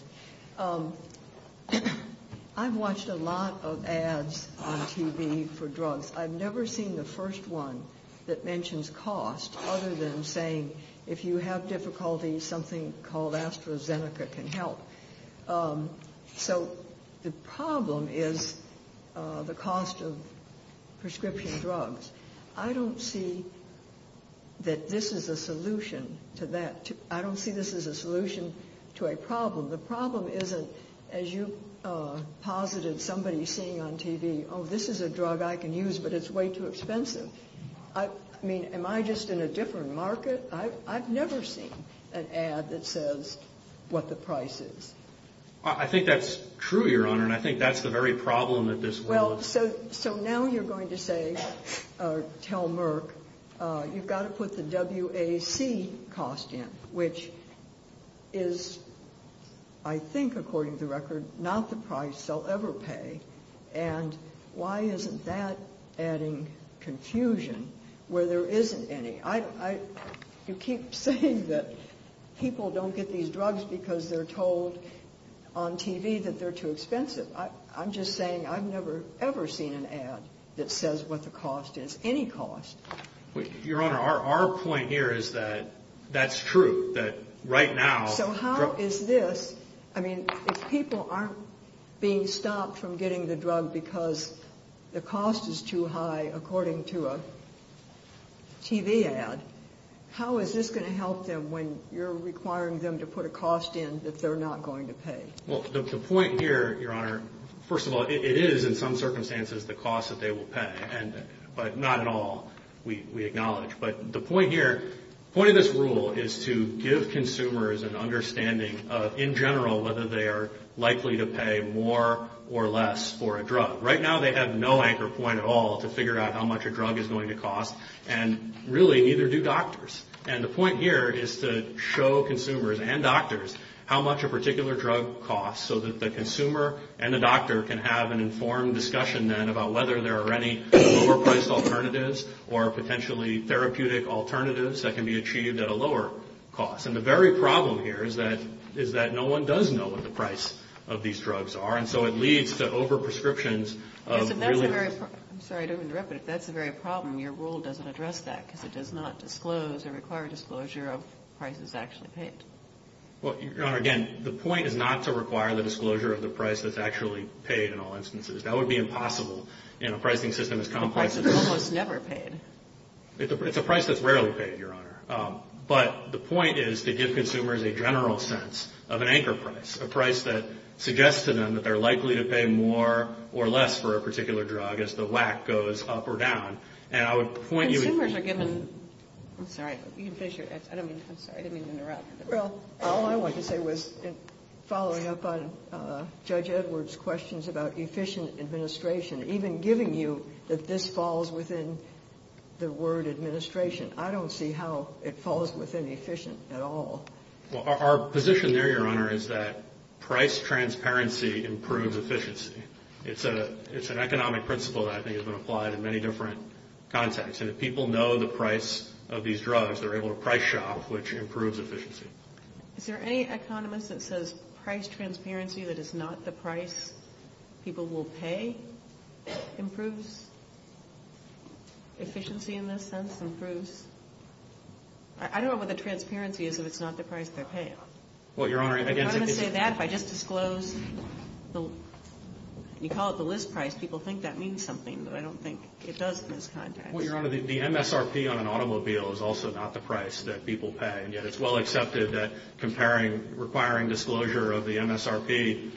I've watched a lot of ads on TV for drugs. I've never seen the first one that mentions cost other than saying if you have difficulties, something called AstraZeneca can help. So the problem is the cost of prescription drugs. I don't see that this is a solution to that. I don't see this as a solution to a problem. The problem isn't, as you posited somebody seeing on TV, oh, this is a drug I can use, but it's way too expensive. I mean, am I just in a different market? I've never seen an ad that says what the price is. I think that's true, Your Honor, and I think that's the very problem that this will. Well, so now you're going to say or tell Merck you've got to put the WAC cost in, which is, I think, according to the record, not the price they'll ever pay. And why isn't that adding confusion where there isn't any? You keep saying that people don't get these drugs because they're told on TV that they're too expensive. I'm just saying I've never, ever seen an ad that says what the cost is, any cost. Your Honor, our point here is that that's true, that right now. So how is this, I mean, if people aren't being stopped from getting the drug because the cost is too high, according to a TV ad, how is this going to help them when you're requiring them to put a cost in that they're not going to pay? Well, the point here, Your Honor, first of all, it is in some circumstances the cost that they will pay, but not at all, we acknowledge. But the point here, the point of this rule is to give consumers an understanding of, in general, whether they are likely to pay more or less for a drug. Right now they have no anchor point at all to figure out how much a drug is going to cost, and really neither do doctors. And the point here is to show consumers and doctors how much a particular drug costs so that the consumer and the doctor can have an informed discussion then about whether there are any overpriced alternatives or potentially therapeutic alternatives that can be achieved at a lower cost. And the very problem here is that no one does know what the price of these drugs are, and so it leads to overprescriptions of really... I'm sorry to interrupt, but if that's the very problem, your rule doesn't address that because it does not disclose or require disclosure of prices actually paid. Well, Your Honor, again, the point is not to require the disclosure of the price that's actually paid in all instances. That would be impossible in a pricing system as complex as this. A price that's almost never paid. It's a price that's rarely paid, Your Honor. But the point is to give consumers a general sense of an anchor price, a price that suggests to them that they're likely to pay more or less for a particular drug as the WAC goes up or down. And I would point you... Well, all I wanted to say was, following up on Judge Edwards' questions about efficient administration, even giving you that this falls within the word administration, I don't see how it falls within efficient at all. Well, our position there, Your Honor, is that price transparency improves efficiency. It's an economic principle that I think has been applied in many different contexts. And if people know the price of these drugs, they're able to price shop, which improves efficiency. Is there any economist that says price transparency that is not the price people will pay improves efficiency in this sense? Improves? I don't know what the transparency is if it's not the price they're paying. Well, Your Honor, again... I'm not going to say that if I just disclose the... You call it the list price. People think that means something, but I don't think it does in this context. Well, Your Honor, the MSRP on an automobile is also not the price that people pay, and yet it's well accepted that requiring disclosure of the MSRP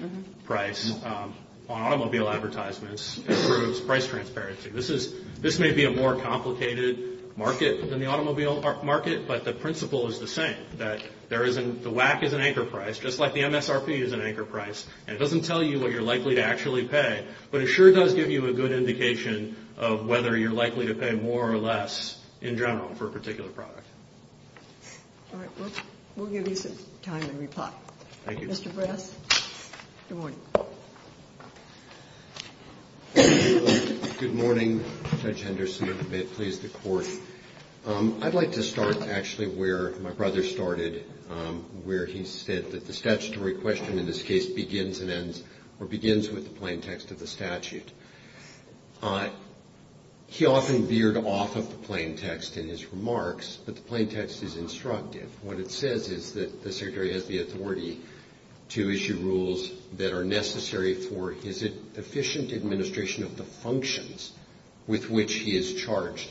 price on automobile advertisements improves price transparency. This may be a more complicated market than the automobile market, but the principle is the same, that the WAC is an anchor price, just like the MSRP is an anchor price, and it doesn't tell you what you're likely to actually pay, but it sure does give you a good indication of whether you're likely to pay more or less in general for a particular product. All right. We'll give you some time to reply. Thank you. Mr. Brass? Good morning. Good morning, Judge Henderson, and may it please the Court. I'd like to start actually where my brother started, where he said that the statutory question in this case begins and ends or begins with the plain text of the statute. He often veered off of the plain text in his remarks, but the plain text is instructive. What it says is that the Secretary has the authority to issue rules that are necessary for his efficient administration of the functions with which he is charged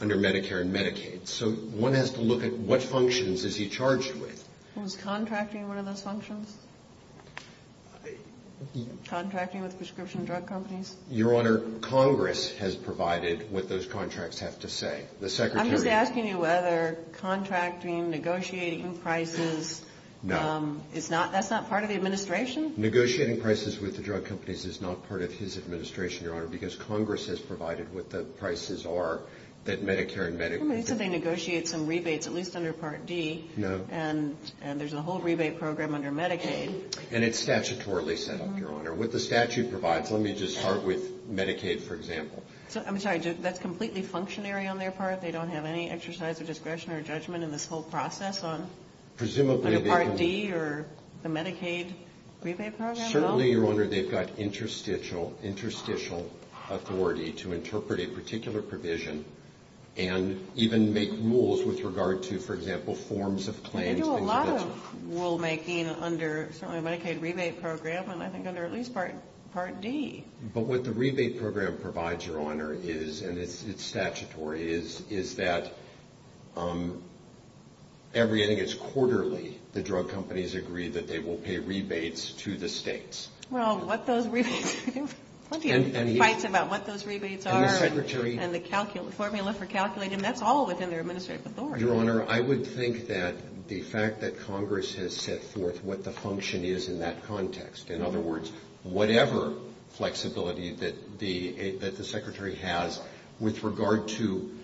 under Medicare and Medicaid. So one has to look at what functions is he charged with. Was contracting one of those functions? Contracting with prescription drug companies? Your Honor, Congress has provided what those contracts have to say. I'm just asking you whether contracting, negotiating prices, that's not part of the administration? Negotiating prices with the drug companies is not part of his administration, Your Honor, because Congress has provided what the prices are that Medicare and Medicaid. He said they negotiate some rebates, at least under Part D. No. And there's a whole rebate program under Medicaid. And it's statutorily set up, Your Honor. What the statute provides, let me just start with Medicaid, for example. I'm sorry, that's completely functionary on their part? They don't have any exercise of discretion or judgment in this whole process under Part D or the Medicaid rebate program? Certainly, Your Honor, they've got interstitial authority to interpret a particular provision and even make rules with regard to, for example, forms of claims. They do a lot of rulemaking under certainly the Medicaid rebate program and I think under at least Part D. But what the rebate program provides, Your Honor, is, and it's statutory, is that every, I think it's quarterly, the drug companies agree that they will pay rebates to the states. Well, what those rebates do, plenty of fights about what those rebates are. And the Secretary. And the formula for calculating, that's all within their administrative authority. Your Honor, I would think that the fact that Congress has set forth what the function is in that context, in other words, whatever flexibility that the Secretary has with regard to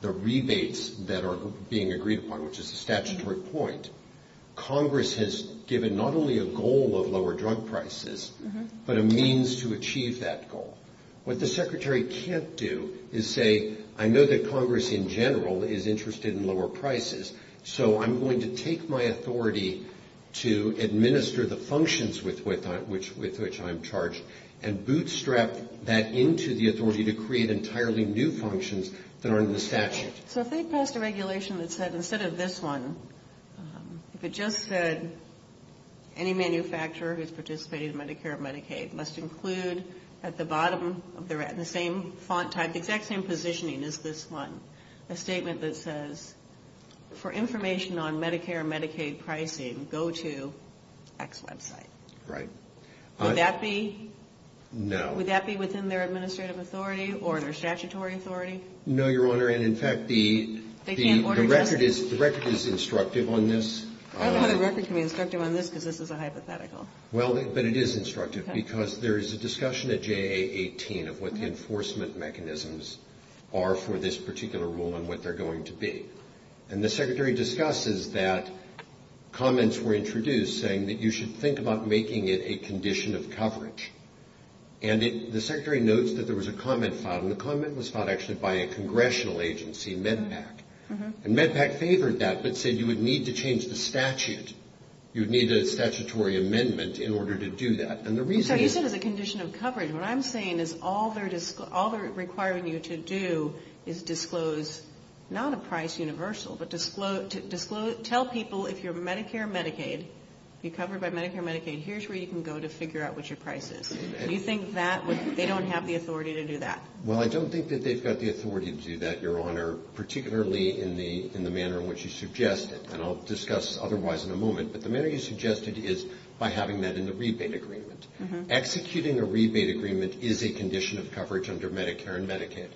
the rebates that are being agreed upon, which is a statutory point, Congress has given not only a goal of lower drug prices, but a means to achieve that goal. What the Secretary can't do is say, I know that Congress in general is interested in lower prices, so I'm going to take my authority to administer the functions with which I'm charged, and bootstrap that into the authority to create entirely new functions that aren't in the statute. So think past a regulation that said, instead of this one, if it just said, any manufacturer who's participating in Medicare or Medicaid must include at the bottom, the same font type, the exact same positioning as this one, a statement that says, for information on Medicare and Medicaid pricing, go to X website. Right. Would that be? No. Would that be within their administrative authority or their statutory authority? No, Your Honor. And in fact, the record is instructive on this. I don't know how the record can be instructive on this, because this is a hypothetical. Well, but it is instructive, because there is a discussion at JA-18 of what the enforcement mechanisms are for this particular rule and what they're going to be. And the Secretary discusses that comments were introduced saying that you should think about making it a condition of coverage. And the Secretary notes that there was a comment filed, and the comment was filed actually by a congressional agency, MedPAC, and MedPAC favored that, but said you would need to change the statute. You would need a statutory amendment in order to do that. So you said it's a condition of coverage. What I'm saying is all they're requiring you to do is disclose, not a price universal, but tell people if you're Medicare or Medicaid, you're covered by Medicare or Medicaid, here's where you can go to figure out what your price is. Do you think that would, they don't have the authority to do that? Well, I don't think that they've got the authority to do that, Your Honor, particularly in the manner in which you suggest it. And I'll discuss otherwise in a moment. But the manner you suggested is by having that in the rebate agreement. Executing a rebate agreement is a condition of coverage under Medicare and Medicaid.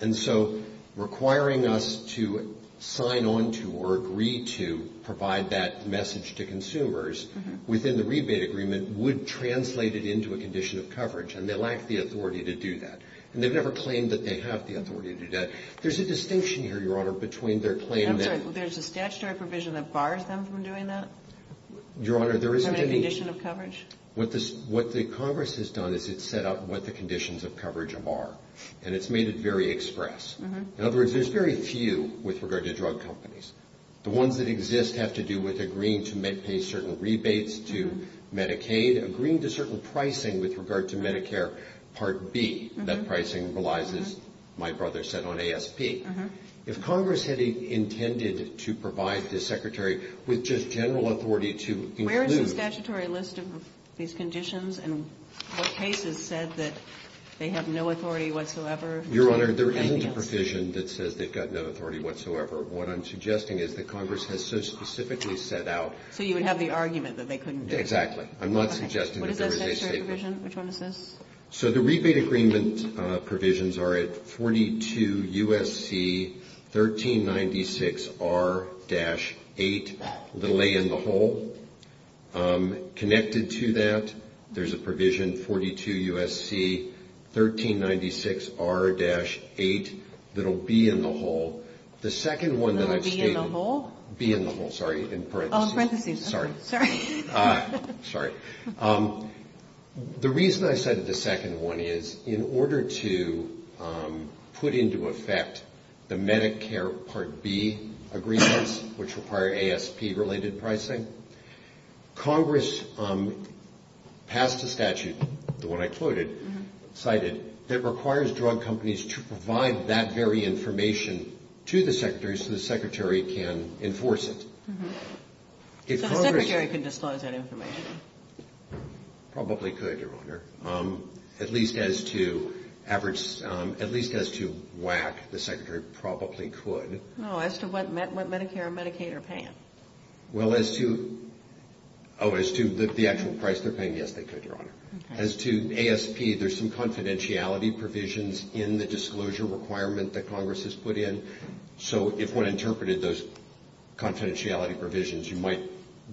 And so requiring us to sign on to or agree to provide that message to consumers within the rebate agreement would translate it into a condition of coverage, and they lack the authority to do that. And they've never claimed that they have the authority to do that. There's a distinction here, Your Honor, between their claim that there's a statutory provision that bars them from doing that? Your Honor, there isn't any. Is there a condition of coverage? What the Congress has done is it's set up what the conditions of coverage are. And it's made it very express. In other words, there's very few with regard to drug companies. The ones that exist have to do with agreeing to pay certain rebates to Medicaid, agreeing to certain pricing with regard to Medicare Part B. That pricing relies, as my brother said, on ASP. If Congress had intended to provide the Secretary with just general authority to include them. Where is the statutory list of these conditions and what cases said that they have no authority whatsoever? Your Honor, there isn't a provision that says they've got no authority whatsoever. What I'm suggesting is that Congress has so specifically set out. So you would have the argument that they couldn't do it? Exactly. I'm not suggesting that there is a statement. What is that statutory provision? Which one is this? So the rebate agreement provisions are at 42 U.S.C. 1396R-8, little a in the hole. Connected to that, there's a provision, 42 U.S.C. 1396R-8, little b in the hole. The second one that I've stated. Little b in the hole? B in the hole, sorry, in parentheses. Oh, in parentheses. Sorry. Sorry. The reason I cited the second one is in order to put into effect the Medicare Part B agreements, which require ASP-related pricing, Congress passed a statute, the one I quoted, cited that requires drug companies to provide that very information to the Secretary so the Secretary can enforce it. So the Secretary can disclose that information? Probably could, Your Honor. At least as to average, at least as to WAC, the Secretary probably could. Oh, as to what Medicare and Medicaid are paying? Well, as to, oh, as to the actual price they're paying, yes, they could, Your Honor. As to ASP, there's some confidentiality provisions in the disclosure requirement that Congress has put in. So if one interpreted those confidentiality provisions, you might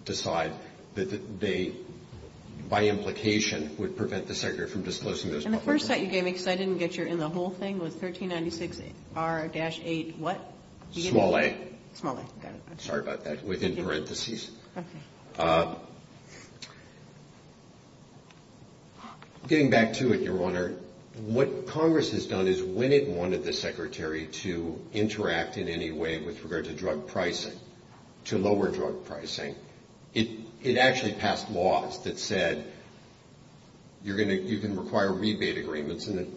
decide that they, by implication, would prevent the Secretary from disclosing those public information. And the first set you gave me, because I didn't get your in the hole thing, was 1396R-8 what? Small a. Small a, got it. Sorry about that, within parentheses. Okay. Getting back to it, Your Honor, what Congress has done is when it wanted the Secretary to interact in any way with regard to drug pricing, to lower drug pricing, it actually passed laws that said you can require rebate agreements and it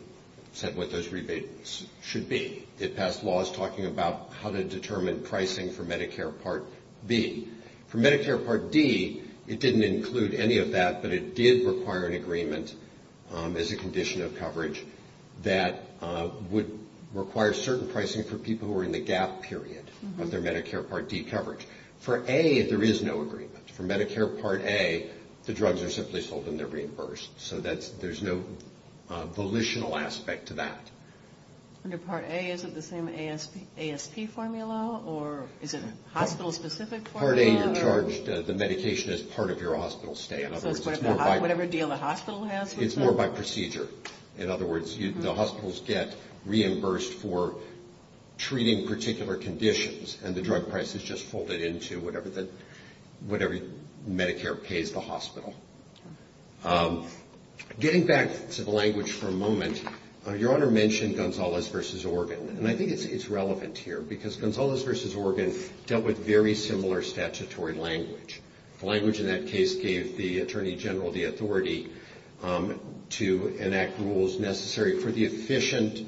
said what those rebates should be. It passed laws talking about how to determine pricing for Medicare Part B. For Medicare Part D, it didn't include any of that, but it did require an agreement as a condition of coverage that would require certain pricing for people who are in the gap period of their Medicare Part D coverage. For A, there is no agreement. For Medicare Part A, the drugs are simply sold and they're reimbursed. So there's no volitional aspect to that. Under Part A, is it the same ASP formula or is it a hospital-specific formula? Part A, you're charged the medication as part of your hospital stay. So it's whatever deal the hospital has? It's more by procedure. In other words, the hospitals get reimbursed for treating particular conditions and the drug price is just folded into whatever Medicare pays the hospital. Getting back to the language for a moment, Your Honor mentioned Gonzales v. Organ, and I think it's relevant here because Gonzales v. Organ dealt with very similar statutory language. The language in that case gave the Attorney General the authority to enact rules necessary for the efficient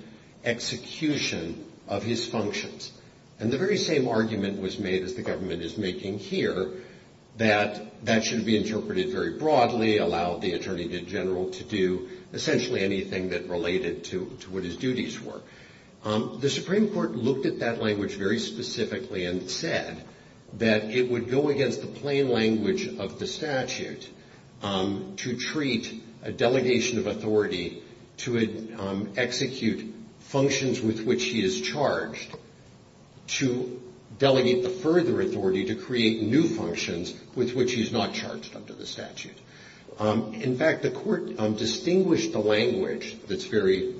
execution of his functions. And the very same argument was made, as the government is making here, that that should be interpreted very broadly, allow the Attorney General to do essentially anything that related to what his duties were. The Supreme Court looked at that language very specifically and said that it would go against the plain language of the statute to treat a delegation of authority to execute functions with which he is charged to delegate the further authority to create new functions with which he is not charged under the statute. In fact, the Court distinguished the language that's very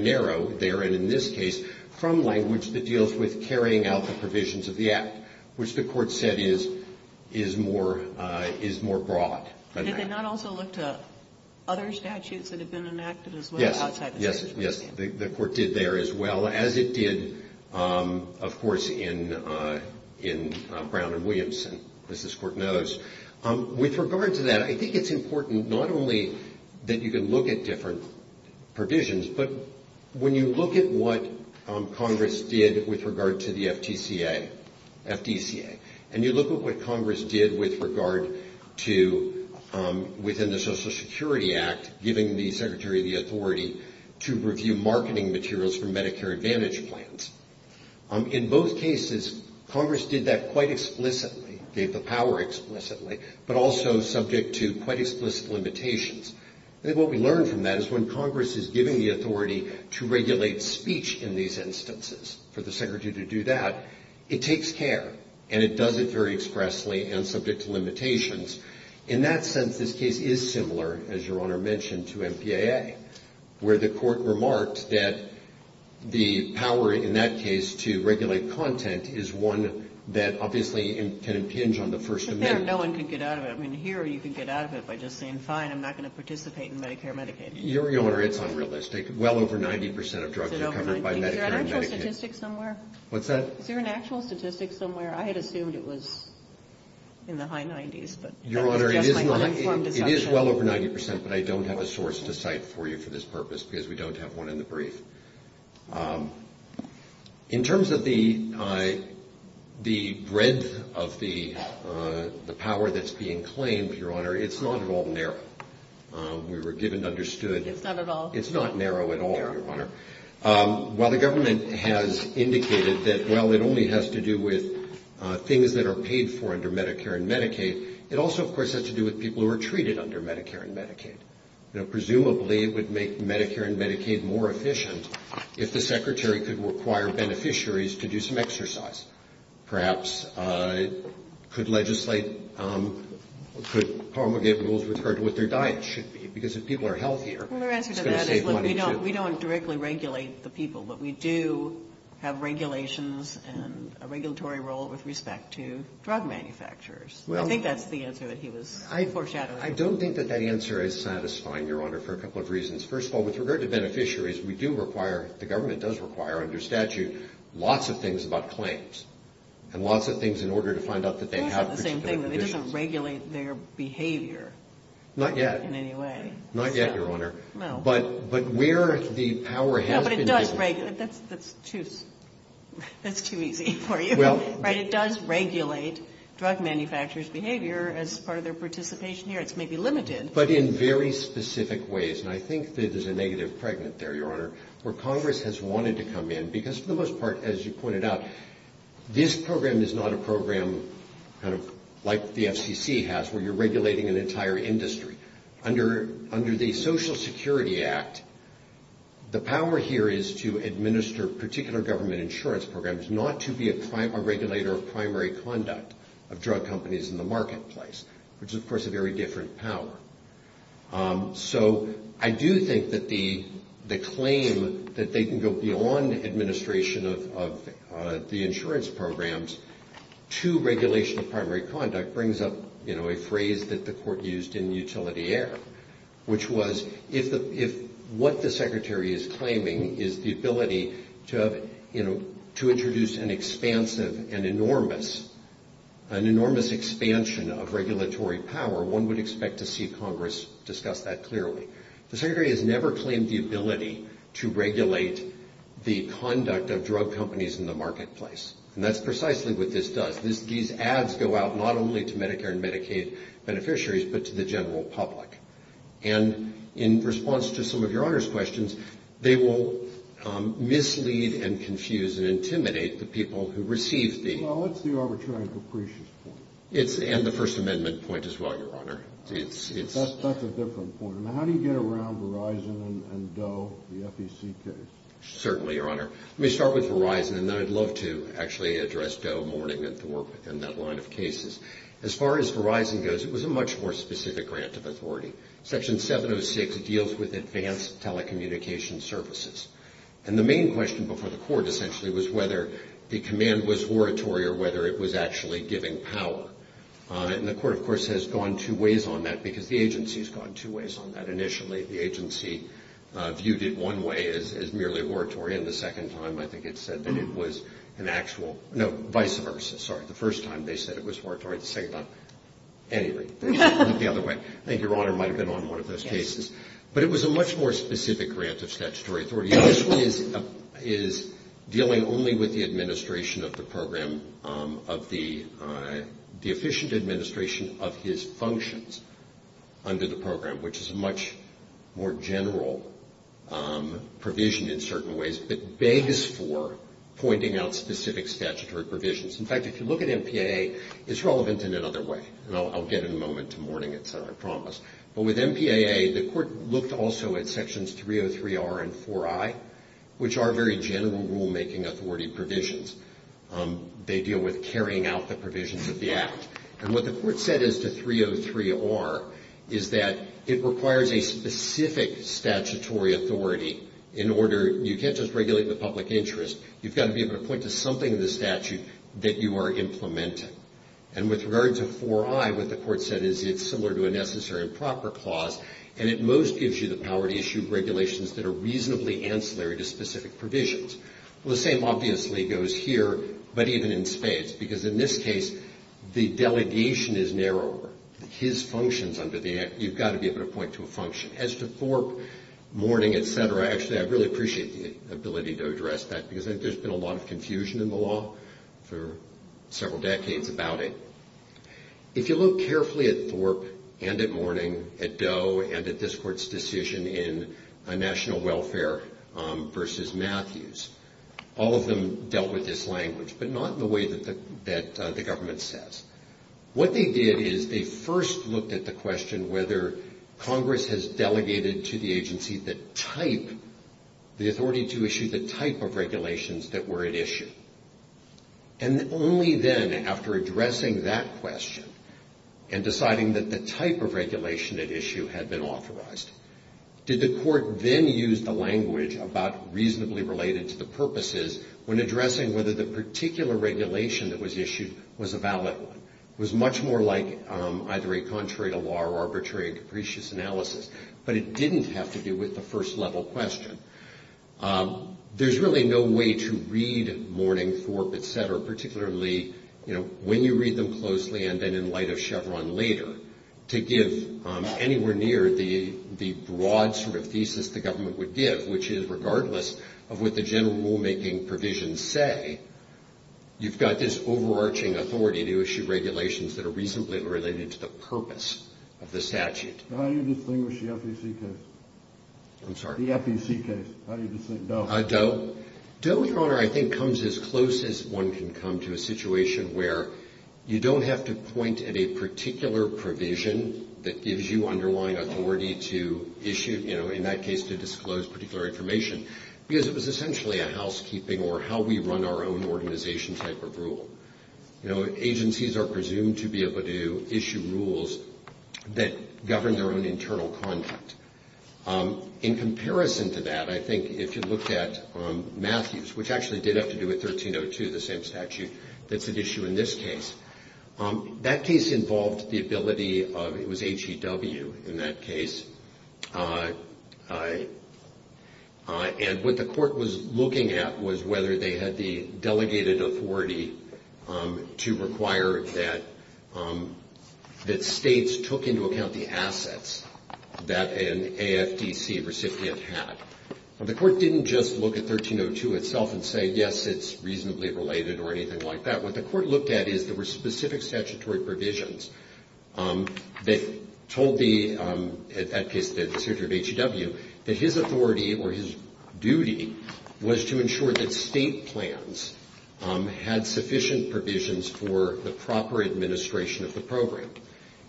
narrow there, and in this case, from language that deals with carrying out the provisions of the Act, which the Court said is more broad than that. Did they not also look to other statutes that have been enacted as well outside the statute? Yes, the Court did there as well as it did, of course, in Brown v. Williamson, as this Court knows. With regard to that, I think it's important not only that you can look at different provisions, but when you look at what Congress did with regard to the FTCA, and you look at what Congress did with regard to within the Social Security Act, giving the Secretary the authority to review marketing materials for Medicare Advantage plans. In both cases, Congress did that quite explicitly, gave the power explicitly, but also subject to quite explicit limitations. I think what we learned from that is when Congress is giving the authority to regulate speech in these instances, for the Secretary to do that, it takes care, and it does it very expressly and subject to limitations. In that sense, this case is similar, as Your Honor mentioned, to MPAA, where the Court remarked that the power in that case to regulate content is one that obviously can impinge on the First Amendment. No one can get out of it. I mean, here you can get out of it by just saying, fine, I'm not going to participate in Medicare and Medicaid. Your Honor, it's unrealistic. Well over 90 percent of drugs are covered by Medicare and Medicaid. Is there an actual statistic somewhere? What's that? Is there an actual statistic somewhere? I had assumed it was in the high 90s, but that was just my uninformed assumption. Your Honor, it is well over 90 percent, but I don't have a source to cite for you for this purpose, because we don't have one in the brief. In terms of the breadth of the power that's being claimed, Your Honor, it's not at all narrow. We were given and understood. It's not at all. It's not narrow at all, Your Honor. While the government has indicated that, well, it only has to do with things that are paid for under Medicare and Medicaid, it also, of course, has to do with people who are treated under Medicare and Medicaid. Presumably it would make Medicare and Medicaid more efficient if the Secretary could require beneficiaries to do some exercise. Perhaps it could legislate, could promulgate rules with regard to what their diet should be, because if people are healthier, it's going to save money, too. Well, their answer to that is, look, we don't directly regulate the people, but we do have regulations and a regulatory role with respect to drug manufacturers. I think that's the answer that he was foreshadowing. I don't think that that answer is satisfying, Your Honor, for a couple of reasons. First of all, with regard to beneficiaries, we do require, the government does require under statute, lots of things about claims and lots of things in order to find out that they have particular conditions. It's not the same thing. It doesn't regulate their behavior. Not yet. In any way. Not yet, Your Honor. No. But where the power has been given. No, but it does regulate. That's too easy for you. Well. But it does regulate drug manufacturers' behavior as part of their participation here. It's maybe limited. But in very specific ways, and I think that there's a negative pregnant there, Your Honor, where Congress has wanted to come in, because for the most part, as you pointed out, this program is not a program kind of like the FCC has, where you're regulating an entire industry. Under the Social Security Act, the power here is to administer particular government insurance programs, not to be a regulator of primary conduct of drug companies in the marketplace, which is, of course, a very different power. So I do think that the claim that they can go beyond administration of the insurance programs to regulation of primary conduct brings up, you know, a phrase that the Court used in Utility Air, which was if what the Secretary is claiming is the ability to have, you know, to introduce an expansive and enormous expansion of regulatory power, one would expect to see Congress discuss that clearly. The Secretary has never claimed the ability to regulate the conduct of drug companies in the marketplace. And that's precisely what this does. These ads go out not only to Medicare and Medicaid beneficiaries, but to the general public. And in response to some of Your Honor's questions, they will mislead and confuse and intimidate the people who receive them. Well, that's the arbitrary and capricious point. And the First Amendment point as well, Your Honor. That's a different point. Now, how do you get around Verizon and Doe, the FEC case? Certainly, Your Honor. Let me start with Verizon, and then I'd love to actually address Doe, Mourning, and to work within that line of cases. As far as Verizon goes, it was a much more specific grant of authority. Section 706 deals with advanced telecommunication services. And the main question before the Court essentially was whether the command was oratory or whether it was actually giving power. And the Court, of course, has gone two ways on that because the agency has gone two ways on that. Initially, the agency viewed it one way as merely oratory, and the second time I think it said that it was an actual, no, vice versa. Sorry. The first time they said it was oratory, the second time, anyway. They looked the other way. I think Your Honor might have been on one of those cases. But it was a much more specific grant of statutory authority. This one is dealing only with the administration of the program, of the efficient administration of his functions under the program, which is a much more general provision in certain ways, but begs for pointing out specific statutory provisions. In fact, if you look at MPAA, it's relevant in another way, and I'll get in a moment to Mourning it, sir, I promise. But with MPAA, the Court looked also at Sections 303R and 4I, which are very general rulemaking authority provisions. They deal with carrying out the provisions of the Act. And what the Court said as to 303R is that it requires a specific statutory authority in order you can't just regulate the public interest. You've got to be able to point to something in the statute that you are implementing. And with regard to 4I, what the Court said is it's similar to a necessary and proper clause, and it most gives you the power to issue regulations that are reasonably ancillary to specific provisions. Well, the same obviously goes here, but even in spades, because in this case the delegation is narrower. His functions under the Act, you've got to be able to point to a function. As to Thorpe, Mourning, et cetera, actually I really appreciate the ability to address that because I think there's been a lot of confusion in the law for several decades about it. If you look carefully at Thorpe and at Mourning, at Doe, and at this Court's decision in National Welfare v. Matthews, all of them dealt with this language, but not in the way that the government says. What they did is they first looked at the question whether Congress has delegated to the agency the type, the authority to issue the type of regulations that were at issue. And only then, after addressing that question and deciding that the type of regulation at issue had been authorized, did the Court then use the language about reasonably related to the purposes when addressing whether the particular regulation that was issued was a valid one. It was much more like either a contrary to law or arbitrary and capricious analysis, but it didn't have to do with the first level question. There's really no way to read Mourning, Thorpe, et cetera, particularly when you read them closely and then in light of Chevron later, to give anywhere near the broad sort of thesis the government would give, which is regardless of what the general rulemaking provisions say, you've got this overarching authority to issue regulations that are reasonably related to the purpose of the statute. How do you distinguish the FEC case? I'm sorry? The FEC case. How do you distinguish Doe? Doe, Your Honor, I think comes as close as one can come to a situation where you don't have to point at a particular provision that gives you underlying authority to issue, in that case to disclose particular information, because it was essentially a housekeeping or how we run our own organization type of rule. Agencies are presumed to be able to issue rules that govern their own internal conduct. In comparison to that, I think if you looked at Matthews, which actually did have to do with 1302, the same statute that's at issue in this case, that case involved the ability of, it was HEW in that case, and what the court was looking at was whether they had the delegated authority to require that states took into account the assets that an AFDC recipient had. The court didn't just look at 1302 itself and say, yes, it's reasonably related or anything like that. What the court looked at is there were specific statutory provisions that told the, in that case, the secretary of HEW, that his authority or his duty was to ensure that state plans had sufficient provisions for the proper administration of the program.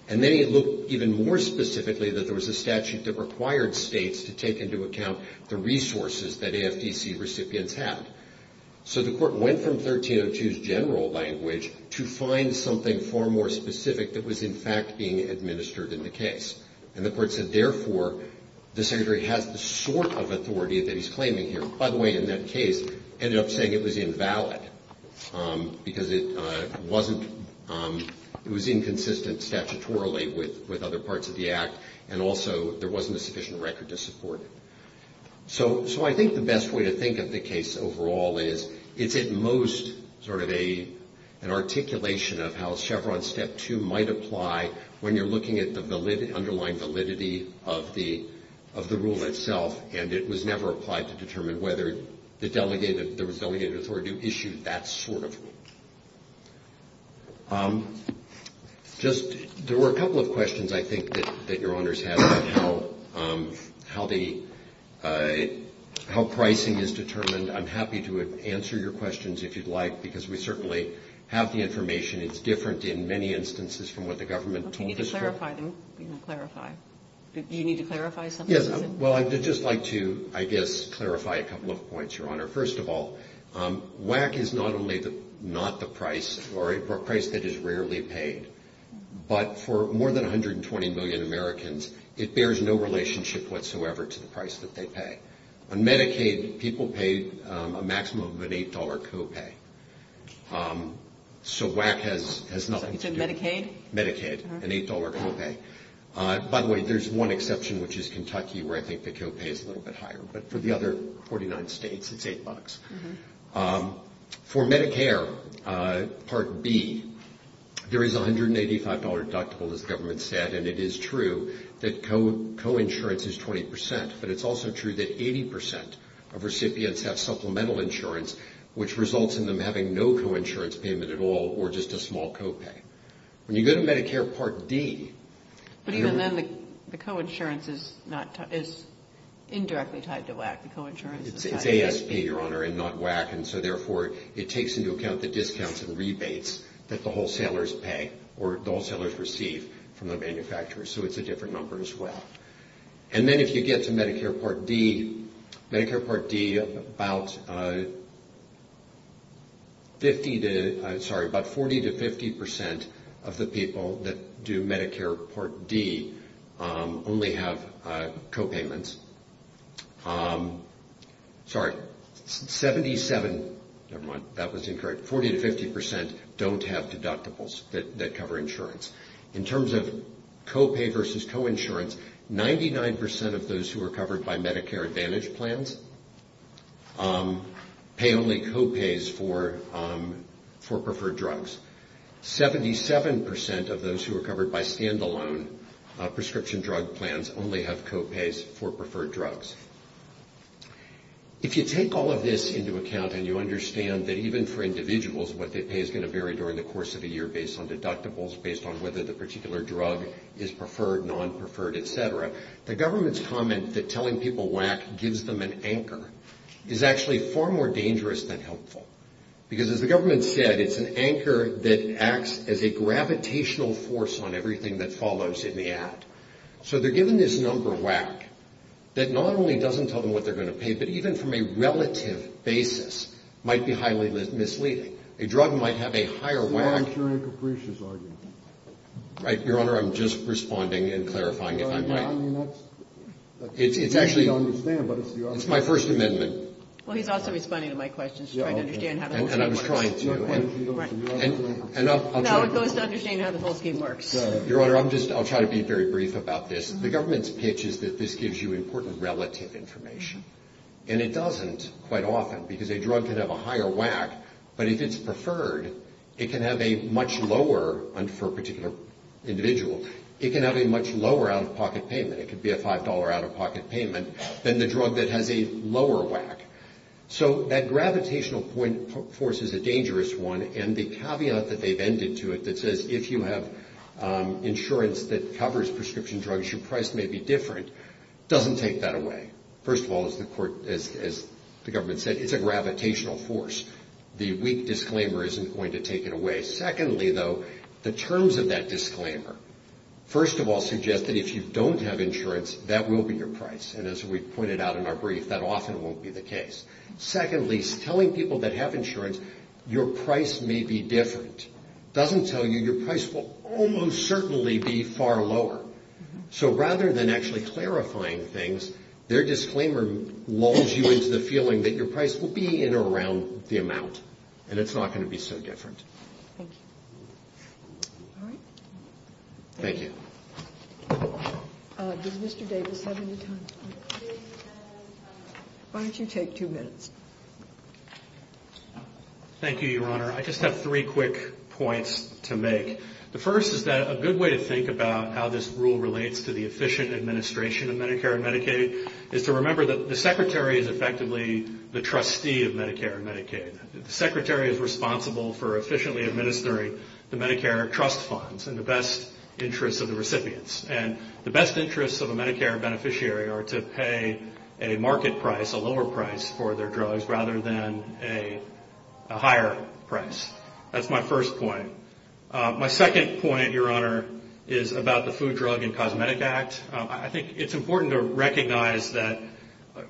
And then it looked even more specifically that there was a statute that required states to take into account the resources that AFDC recipients had. So the court went from 1302's general language to find something far more specific that was in fact being administered in the case. And the court said, therefore, the secretary has the sort of authority that he's claiming here. Which, by the way, in that case, ended up saying it was invalid, because it wasn't, it was inconsistent statutorily with other parts of the Act, and also there wasn't a sufficient record to support it. So I think the best way to think of the case overall is it's at most sort of an articulation of how Chevron Step 2 might apply when you're looking at the underlying validity of the rule itself, and it was never applied to determine whether the delegated, there was delegated authority to issue that sort of. Just, there were a couple of questions, I think, that Your Honors had about how the, how pricing is determined. I'm happy to answer your questions if you'd like, because we certainly have the information. It's different in many instances from what the government told us. Do you need to clarify something? Yes, well, I'd just like to, I guess, clarify a couple of points, Your Honor. First of all, WACC is not only not the price, or a price that is rarely paid, but for more than 120 million Americans, it bears no relationship whatsoever to the price that they pay. On Medicaid, people pay a maximum of an $8 copay. So WACC has nothing to do with it. Medicaid? Medicaid, an $8 copay. By the way, there's one exception, which is Kentucky, where I think the copay is a little bit higher. But for the other 49 states, it's $8. For Medicare Part B, there is a $185 deductible, as the government said, and it is true that coinsurance is 20%, but it's also true that 80% of recipients have supplemental insurance, which results in them having no coinsurance payment at all or just a small copay. When you go to Medicare Part D. But even then, the coinsurance is indirectly tied to WACC. The coinsurance is tied to ASP. It's ASP, Your Honor, and not WACC, and so therefore it takes into account the discounts and rebates that the wholesalers pay or the wholesalers receive from the manufacturers, so it's a different number as well. And then if you get to Medicare Part D. Medicare Part D, about 40% to 50% of the people that do Medicare Part D only have copayments. Sorry, 47% to 50% don't have deductibles that cover insurance. In terms of copay versus coinsurance, 99% of those who are covered by Medicare Advantage plans pay only copays for preferred drugs. Seventy-seven percent of those who are covered by standalone prescription drug plans only have copays for preferred drugs. If you take all of this into account and you understand that even for individuals, what they pay is going to vary during the course of the year based on deductibles, based on whether the particular drug is preferred, non-preferred, et cetera, the government's comment that telling people WACC gives them an anchor is actually far more dangerous than helpful because as the government said, it's an anchor that acts as a gravitational force on everything that follows in the ad. So they're given this number, WACC, that not only doesn't tell them what they're going to pay, but even from a relative basis might be highly misleading. A drug might have a higher WACC. Your Honor, I'm just responding and clarifying, if I might. It's actually my First Amendment. Well, he's also responding to my questions, trying to understand how the whole scheme works. And I'm trying to. No, it goes to understanding how the whole scheme works. Your Honor, I'll try to be very brief about this. The government's pitch is that this gives you important relative information. And it doesn't quite often because a drug can have a higher WACC, but if it's preferred, it can have a much lower, and for a particular individual, it can have a much lower out-of-pocket payment. It could be a $5 out-of-pocket payment than the drug that has a lower WACC. So that gravitational force is a dangerous one. And the caveat that they've ended to it that says if you have insurance that covers prescription drugs, your price may be different doesn't take that away. First of all, as the government said, it's a gravitational force. The weak disclaimer isn't going to take it away. Secondly, though, the terms of that disclaimer, first of all, suggest that if you don't have insurance, that will be your price. And as we pointed out in our brief, that often won't be the case. Secondly, telling people that have insurance, your price may be different, doesn't tell you your price will almost certainly be far lower. So rather than actually clarifying things, their disclaimer lulls you into the feeling that your price will be in or around the amount, and it's not going to be so different. Thank you. All right. Thank you. Does Mr. Davis have any time? Why don't you take two minutes? Thank you, Your Honor. I just have three quick points to make. The first is that a good way to think about how this rule relates to the efficient administration of Medicare and Medicaid is to remember that the Secretary is effectively the trustee of Medicare and Medicaid. The Secretary is responsible for efficiently administering the Medicare trust funds in the best interest of the recipients. And the best interests of a Medicare beneficiary are to pay a market price, a lower price for their drugs, rather than a higher price. That's my first point. My second point, Your Honor, is about the Food, Drug, and Cosmetic Act. I think it's important to recognize that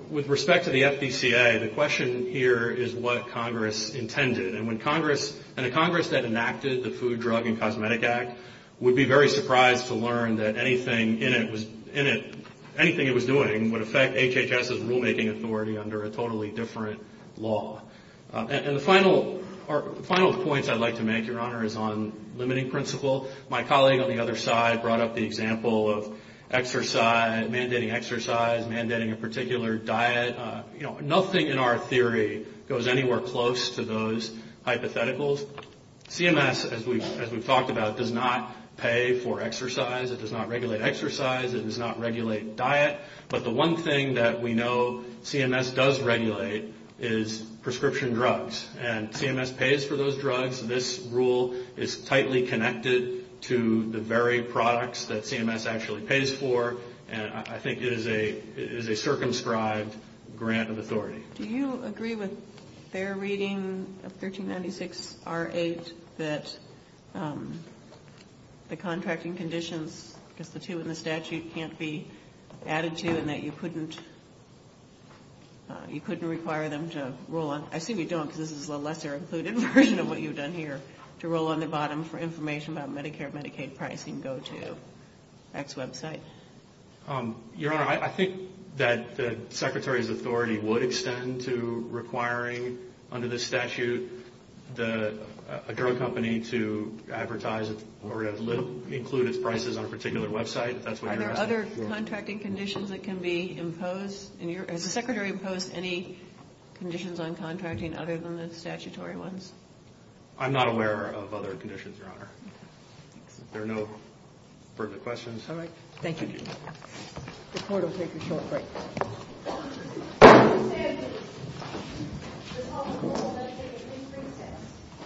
with respect to the FDCA, the question here is what Congress intended. And a Congress that enacted the Food, Drug, and Cosmetic Act would be very surprised to learn that anything it was doing would affect HHS's rulemaking authority under a totally different law. And the final points I'd like to make, Your Honor, is on limiting principle. My colleague on the other side brought up the example of mandating exercise, mandating a particular diet. Nothing in our theory goes anywhere close to those hypotheticals. CMS, as we've talked about, does not pay for exercise. It does not regulate exercise. It does not regulate diet. But the one thing that we know CMS does regulate is prescription drugs. And CMS pays for those drugs. This rule is tightly connected to the very products that CMS actually pays for. And I think it is a circumscribed grant of authority. Do you agree with their reading of 1396R8 that the contracting conditions, because the two in the statute can't be added to and that you couldn't require them to roll on? I assume you don't because this is a lesser-included version of what you've done here, to roll on the bottom for information about Medicare, Medicaid pricing, go to X website. Your Honor, I think that the Secretary's authority would extend to requiring, under this statute, a drug company to advertise or include its prices on a particular website, if that's what you're asking. Are there other contracting conditions that can be imposed? Has the Secretary imposed any conditions on contracting other than the statutory ones? I'm not aware of other conditions, Your Honor. There are no further questions. All right. Thank you. The Court will take a short break.